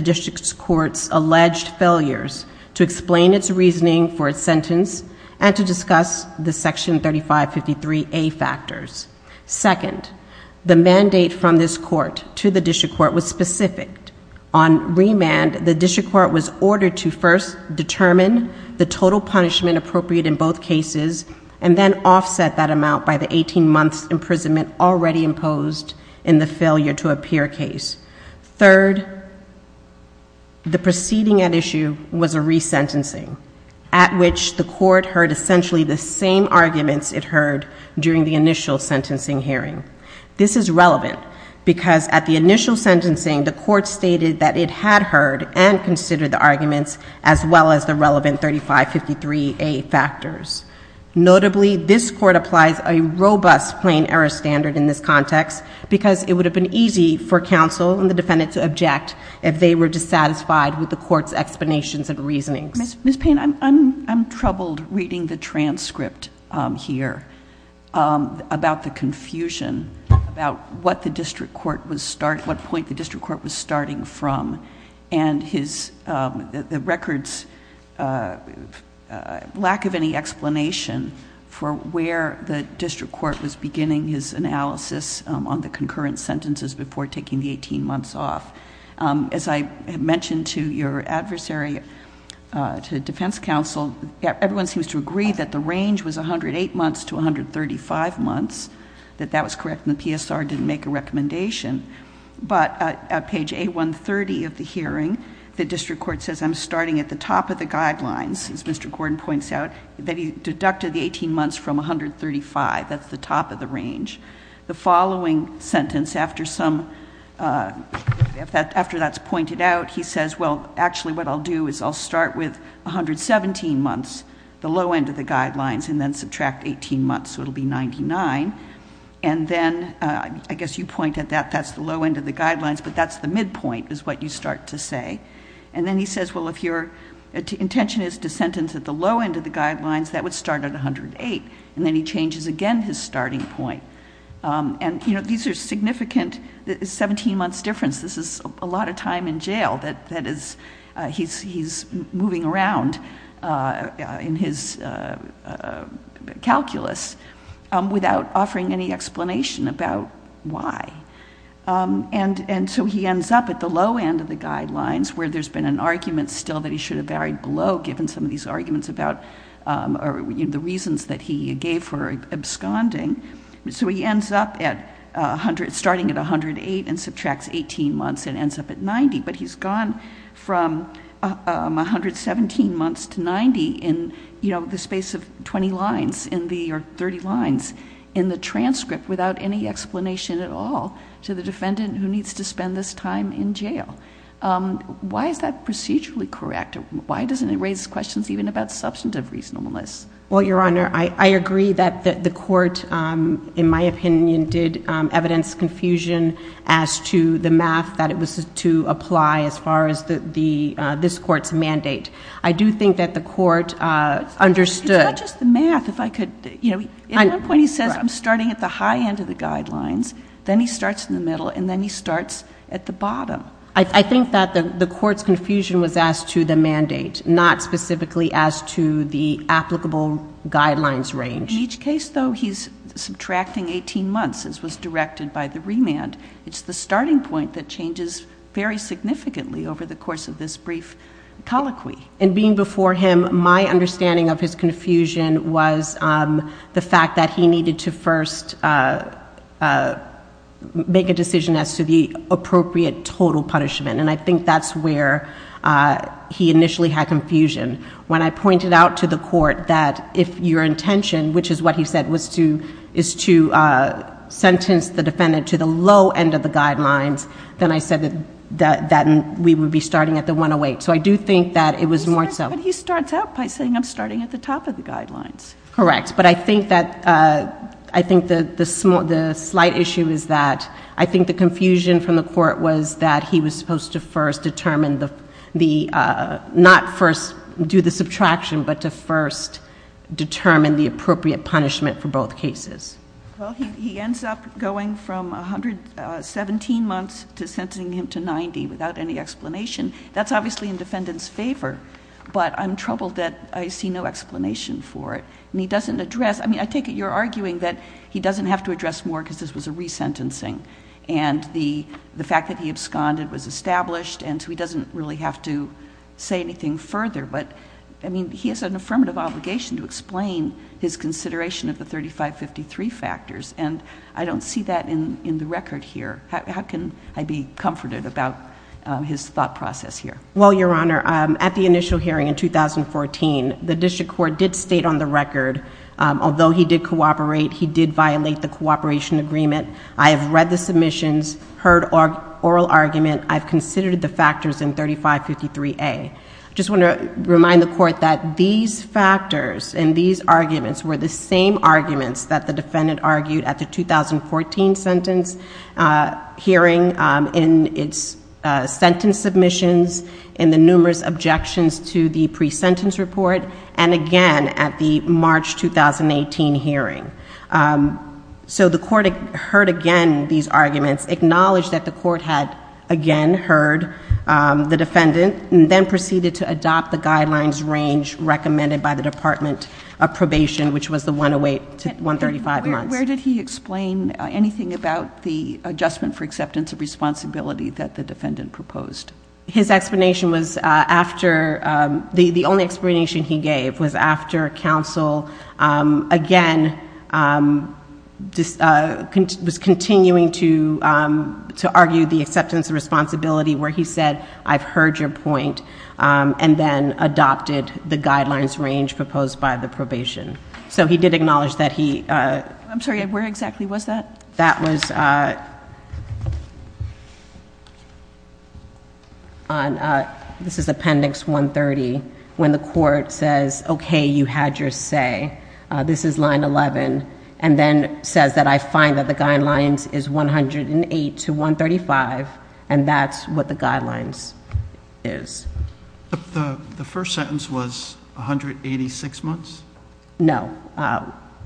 district court's alleged failures to explain its reasoning for its sentence and to discuss the Section 3553A factors. Second, the mandate from this court to the district court was specific. On remand, the district court was ordered to first determine the total punishment appropriate in both cases and then offset that amount by the 18 months' imprisonment already imposed in the failure-to-appear case. Third, the proceeding at issue was a resentencing, at which the court heard essentially the same arguments it heard during the initial sentencing hearing. This is relevant because at the initial sentencing, the court stated that it had heard and considered the arguments as well as the relevant 3553A factors. Notably, this court applies a robust plain error standard in this context because it would have been easy for counsel and the defendant to object if they were dissatisfied with the court's explanations and reasoning. Ms. Payne, I'm troubled reading the transcript here about the confusion about what point the district court was starting from and the record's lack of any explanation for where the district court was beginning his analysis on the concurrent sentences before taking the 18 months off. As I mentioned to your adversary, to the defense counsel, everyone seems to agree that the range was 108 months to 135 months, that that was correct and the PSR didn't make a recommendation. But at page A130 of the hearing, the district court says, I'm starting at the top of the guidelines, as Mr. Gordon points out, that he deducted the 18 months from 135, that's the top of the range. The following sentence, after that's pointed out, he says, well, actually what I'll do is I'll start with 117 months, the low end of the guidelines, and then subtract 18 months, so it'll be 99. And then, I guess you point at that, that's the low end of the guidelines, but that's the midpoint is what you start to say. And then he says, well, if your intention is to sentence at the low end of the guidelines, that would start at 108. And then he changes again his starting point. And, you know, these are significant 17-month differences. This is a lot of time in jail that he's moving around in his calculus without offering any explanation about why. And so he ends up at the low end of the guidelines, where there's been an argument still that he should have varied below, given some of these arguments about the reasons that he gave for absconding. So he ends up starting at 108 and subtracts 18 months and ends up at 90. But he's gone from 117 months to 90 in the space of 20 lines, or 30 lines in the transcript without any explanation at all to the defendant who needs to spend this time in jail. Why is that procedurally correct? Why doesn't it raise questions even about substantive reasonableness? Well, Your Honor, I agree that the court, in my opinion, did evidence confusion as to the math that it was to apply as far as this court's mandate. I do think that the court understood. It's not just the math. At one point he says, I'm starting at the high end of the guidelines. Then he starts in the middle, and then he starts at the bottom. I think that the court's confusion was as to the mandate, not specifically as to the applicable guidelines range. In each case, though, he's subtracting 18 months, as was directed by the remand. It's the starting point that changes very significantly over the course of this brief colloquy. In being before him, my understanding of his confusion was the fact that he needed to first make a decision as to the appropriate total punishment, and I think that's where he initially had confusion. When I pointed out to the court that if your intention, which is what he said, was to sentence the defendant to the low end of the guidelines, then I said that we would be starting at the 108. So I do think that it was more so. But he starts out by saying, I'm starting at the top of the guidelines. Correct. But I think the slight issue is that I think the confusion from the court was that he was supposed to first determine not first do the subtraction, but to first determine the appropriate punishment for both cases. Well, he ends up going from 117 months to sentencing him to 90 without any explanation. That's obviously in the defendant's favor, but I'm troubled that I see no explanation for it. And he doesn't address... I mean, I take it you're arguing that he doesn't have to address more because this was a resentencing, and the fact that he absconded was established, and so he doesn't really have to say anything further. But, I mean, he has an affirmative obligation to explain his consideration of the 3553 factors, and I don't see that in the record here. How can I be comforted about his thought process here? Well, Your Honor, at the initial hearing in 2014, the district court did state on the record, although he did cooperate, he did violate the cooperation agreement. I have read the submissions, heard oral argument. I've considered the factors in 3553A. I just want to remind the court that these factors and these arguments were the same arguments that the defendant argued at the 2014 sentence hearing in its sentence submissions and the numerous objections to the pre-sentence report and again at the March 2018 hearing. So the court heard again these arguments, acknowledged that the court had again heard the defendant, and then proceeded to adopt the guidelines range recommended by the Department of Probation, which was the 108 to 135. Where did he explain anything about the adjustment for acceptance of responsibility that the defendant proposed? His explanation was after... The only explanation he gave was after counsel again was continuing to argue the acceptance of responsibility where he said, I've heard your point, and then adopted the guidelines range proposed by the probation. So he did acknowledge that he... I'm sorry, where exactly was that? That was... This is Appendix 130, when the court says, okay, you had your say. This is line 11, and then says that I find that the guidelines is 108 to 135, and that's what the guidelines is. But the first sentence was 186 months? No,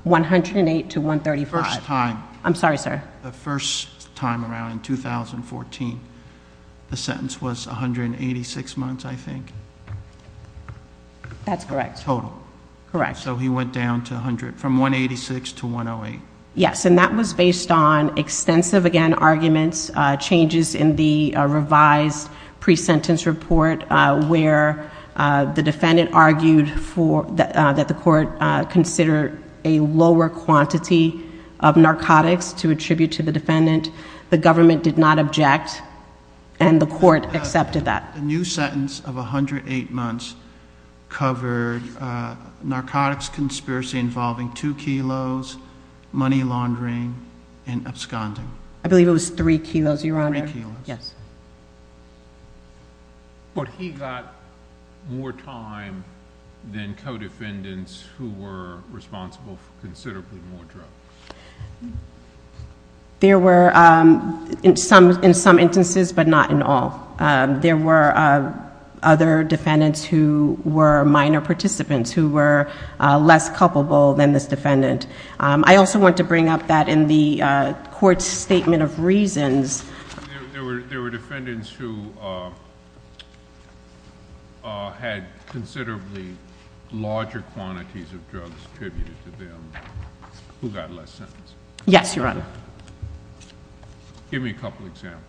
108 to 135. First time. I'm sorry, sir. The first time around in 2014, the sentence was 186 months, I think. That's correct. Total. Correct. So he went down to 100, from 186 to 108. Yes, and that was based on extensive, again, arguments, changes in the revised pre-sentence report where the defendant argued that the court considered a lower quantity of narcotics to attribute to the defendant. The government did not object, and the court accepted that. The new sentence of 108 months covered narcotics conspiracy involving two kilos, money laundering, and absconding. I believe it was three kilos, Your Honour. Three kilos. Yes. But he got more time than co-defendants who were responsible for considerably more drugs. There were, in some instances, but not in all. There were other defendants who were minor participants who were less culpable than this defendant. I also want to bring up that in the court's statement of reasons. There were defendants who had considerably larger quantities of drugs attributed to them who got less sentences. Yes, Your Honour. Give me a couple of examples.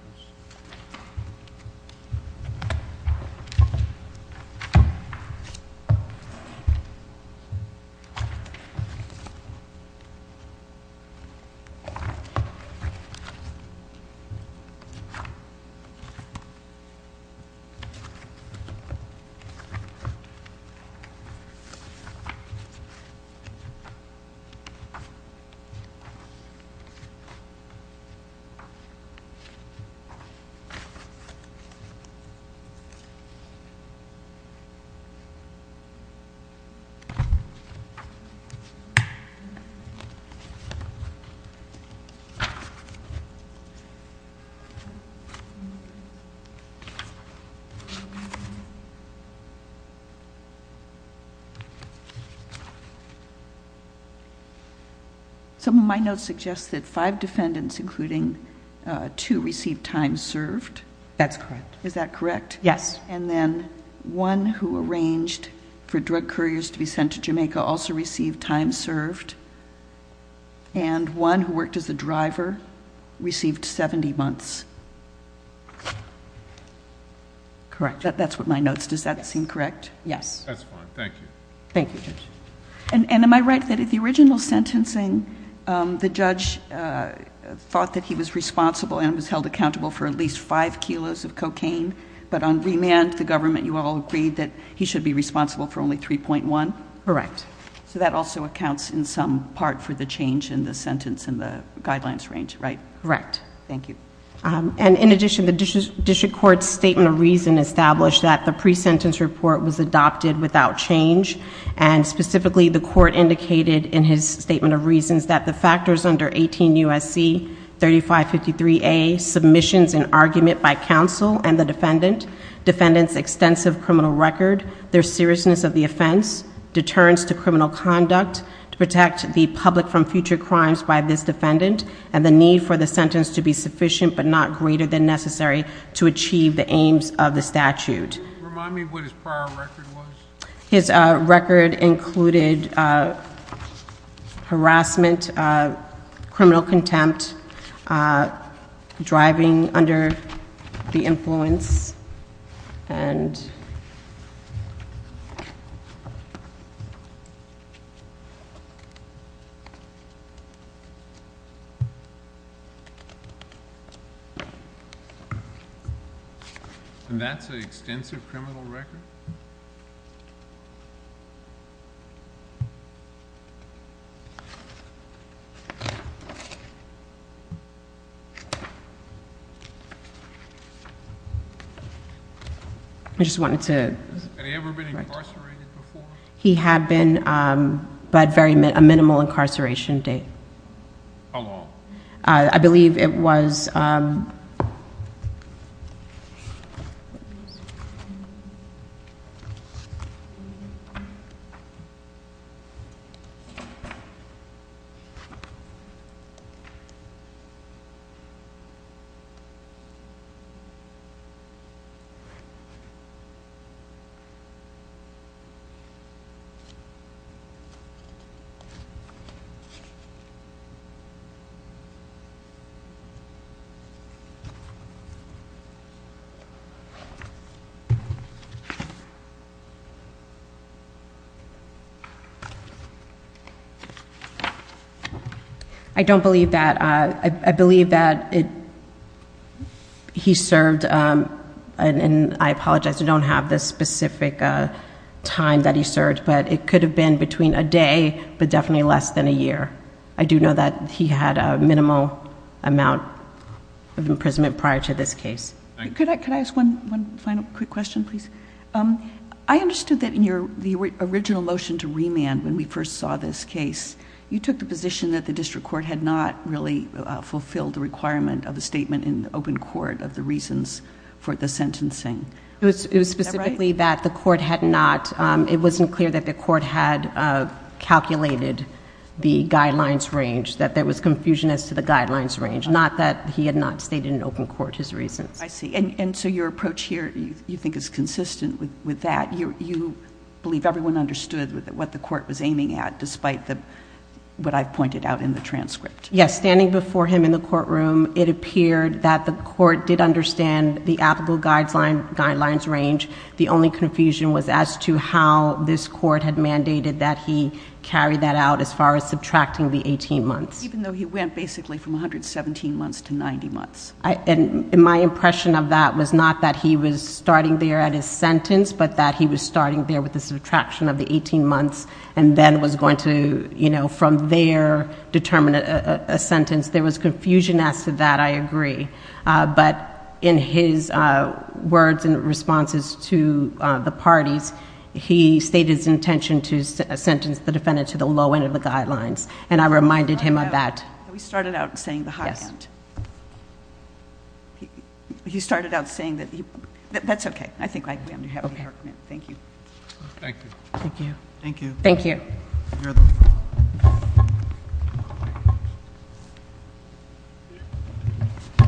Some of my notes suggest that five years ago, five defendants, including two, received time served. That's correct. Is that correct? Yes. And then one who arranged for drug couriers to be sent to Jamaica also received time served, and one who worked as a driver received 70 months. Correct. That's with my notes. Does that seem correct? Yes. That's fine. Thank you. Thank you, Judge. And am I right that in the original sentencing, the judge thought that he was responsible and was held accountable for at least five kilos of cocaine, but on remand, the government, you all agreed that he should be responsible for only 3.1? Correct. So that also accounts in some part for the change in the sentence and the guidelines range, right? Correct. Thank you. And in addition, the district court's statement of reason established that the pre-sentence report was adopted without change and specifically the court indicated in his statement of reasons that the factors under 18 U.S.C. 3553A, submissions and argument by counsel and the defendant, defendant's extensive criminal record, their seriousness of the offense, deterrence to criminal conduct to protect the public from future crimes by this defendant, and the need for the sentence to be sufficient but not greater than necessary to achieve the aims of the statute. Remind me what his prior record was. His record included harassment, criminal contempt, driving under the influence, and... And that's an extensive criminal record? I just wanted to... Had he ever been incarcerated before? He had been, but a minimal incarceration date. How long? I believe it was... I don't believe that. I believe that he served, and I apologize, I don't have the specific time that he served, but it could have been between a day but definitely less than a year. I do know that he had a minimal amount of imprisonment prior to this case. Could I ask one final quick question, please? I understood that in the original motion to remand, when we first saw this case, you took the position that the district court had not really fulfilled the requirement of the statement in open court of the reasons for the sentencing. Is that right? It was specifically that the court had not... That there was confusion as to the guidelines range, not that he had not stated in open court his reasons. I see. And so your approach here, you think, is consistent with that. You believe everyone understood what the court was aiming at, despite what I've pointed out in the transcript. Yes. Standing before him in the courtroom, it appeared that the court did understand the applicable guidelines range. The only confusion was as to how this court had mandated that he carry that out as far as subtracting the 18 months. Even though he went basically from 117 months to 90 months. And my impression of that was not that he was starting there at his sentence, but that he was starting there with the subtraction of the 18 months and then was going to, you know, from there determine a sentence. There was confusion as to that, I agree. But in his words and responses to the parties, he stated his intention to sentence the defendant to the low end of the guidelines. And I reminded him of that. We started out saying the high end. You started out saying that... That's okay. I think I understand. Thank you. Thank you. Thank you. Thank you.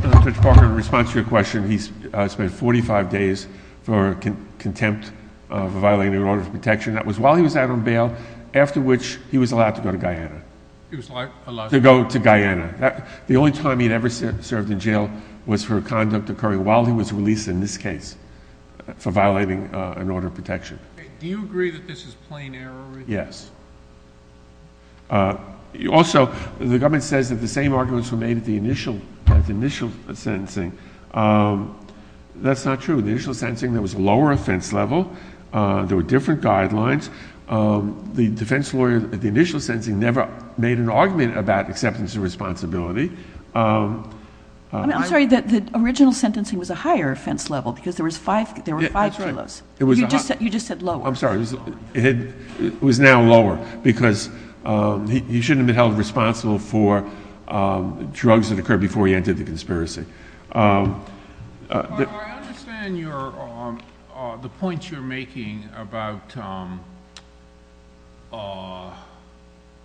Judge Parker, in response to your question, he spent 45 days for contempt for violating an order of protection. That was while he was out on bail, after which he was allowed to go to Guyana. He was allowed... To go to Guyana. The only time he had ever served in jail was for a conduct occurring while he was released in this case for violating an order of protection. Do you agree that this is plain error? Yes. Also, the government says that the same arguments were made at the initial sentencing. That's not true. At the initial sentencing, there was a lower offense level. There were different guidelines. The defense lawyer at the initial sentencing never made an argument about acceptance and responsibility. I'm sorry. The original sentencing was a higher offense level because there were five jurors. You just said lower. I'm sorry. It was now lower because he shouldn't have been held responsible for drugs that occurred before he entered the conspiracy. Judge Parker, I understand the points you're making about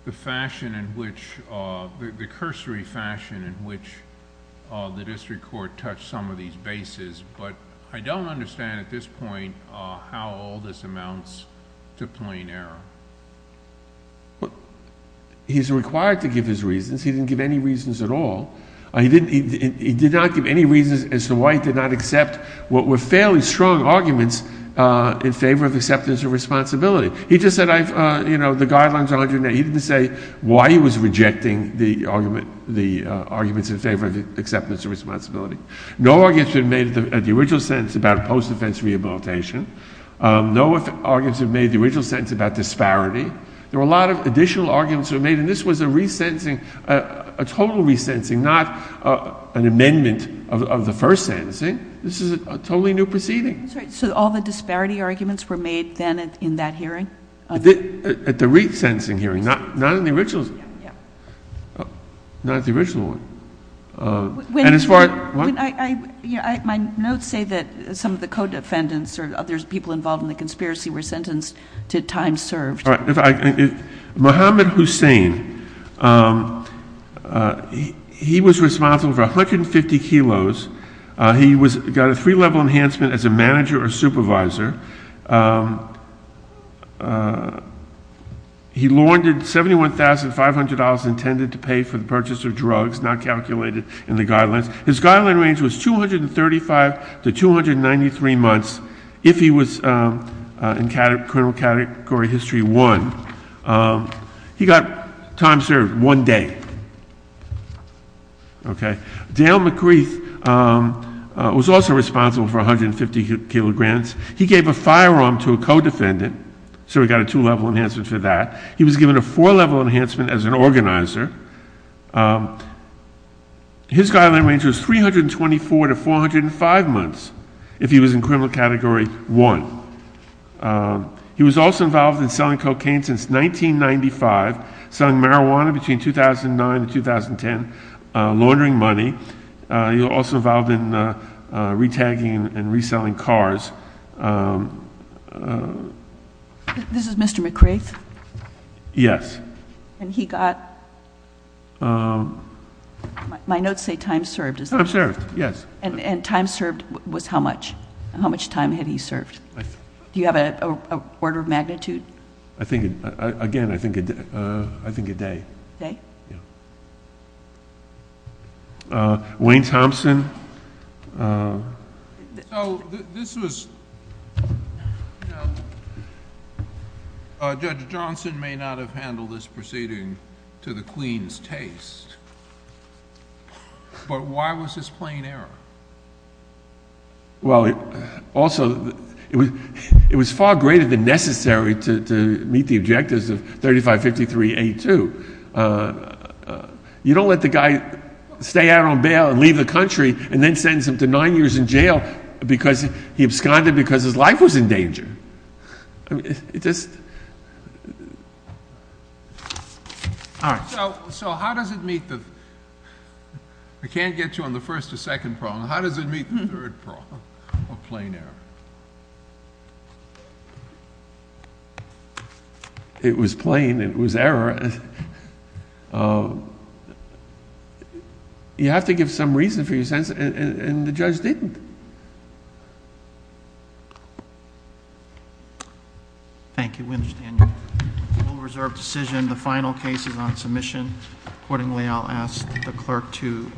the fashion in which, the cursory fashion in which the district court touched some of these bases, but I don't understand at this point how all this amounts to plain error. He's required to give his reasons. He didn't give any reasons at all. He did not give any reasons as to why he did not accept what were fairly strong arguments in favor of acceptance and responsibility. He just said, you know, the guidelines are underneath. He didn't say why he was rejecting the arguments in favor of acceptance and responsibility. No arguments were made at the original sentencing about post-defense rehabilitation. No arguments were made at the original sentencing about disparity. There were a lot of additional arguments that were made, and this was a resentencing, a total resentencing, not an amendment of the first sentencing. This is a totally new proceeding. I'm sorry. So all the disparity arguments were made then in that hearing? At the resentencing hearing, not in the original. Not at the original one. My notes say that some of the co-defendants or other people involved in the conspiracy were sentenced to time served. All right. Mohammed Hussein, he was responsible for 150 kilos. He got a three-level enhancement as a manager or supervisor. He laundered $71,500 intended to pay for the purchase of drugs not calculated in the guidelines. His guideline range was 235 to 293 months if he was in criminal category history one. He got time served one day. Okay. Dale McCreith was also responsible for 150 kilograms. He gave a firearm to a co-defendant, so he got a two-level enhancement for that. He was given a four-level enhancement as an organizer. His guideline range was 324 to 405 months if he was in criminal category one. He was also involved in selling cocaine since 1995, selling marijuana between 2009 and 2010, laundering money. He was also involved in retagging and reselling cars. This is Mr. McCreith? Yes. And he got? My notes say time served. Time served, yes. And time served was how much? How much time had he served? Do you have an order of magnitude? Again, I think a day. Day? Yes. Wayne Thompson? So this was, Judge Johnson may not have handled this proceeding to the queen's taste, but why was this plain error? Well, also, it was far greater than necessary to meet the objectives of 3553A2. You don't let the guy stay out on bail and leave the country and then sentence him to nine years in jail because he absconded because his life was in danger. So how does it meet the, I can't get you on the first or second problem, how does it meet the third problem of plain error? It was plain, it was error. You have to give some reason for your sentence, and the judge didn't. Thank you, Mr. Daniel. We'll reserve the decision. The final case is on submission. Accordingly, I'll ask the clerk to adjourn.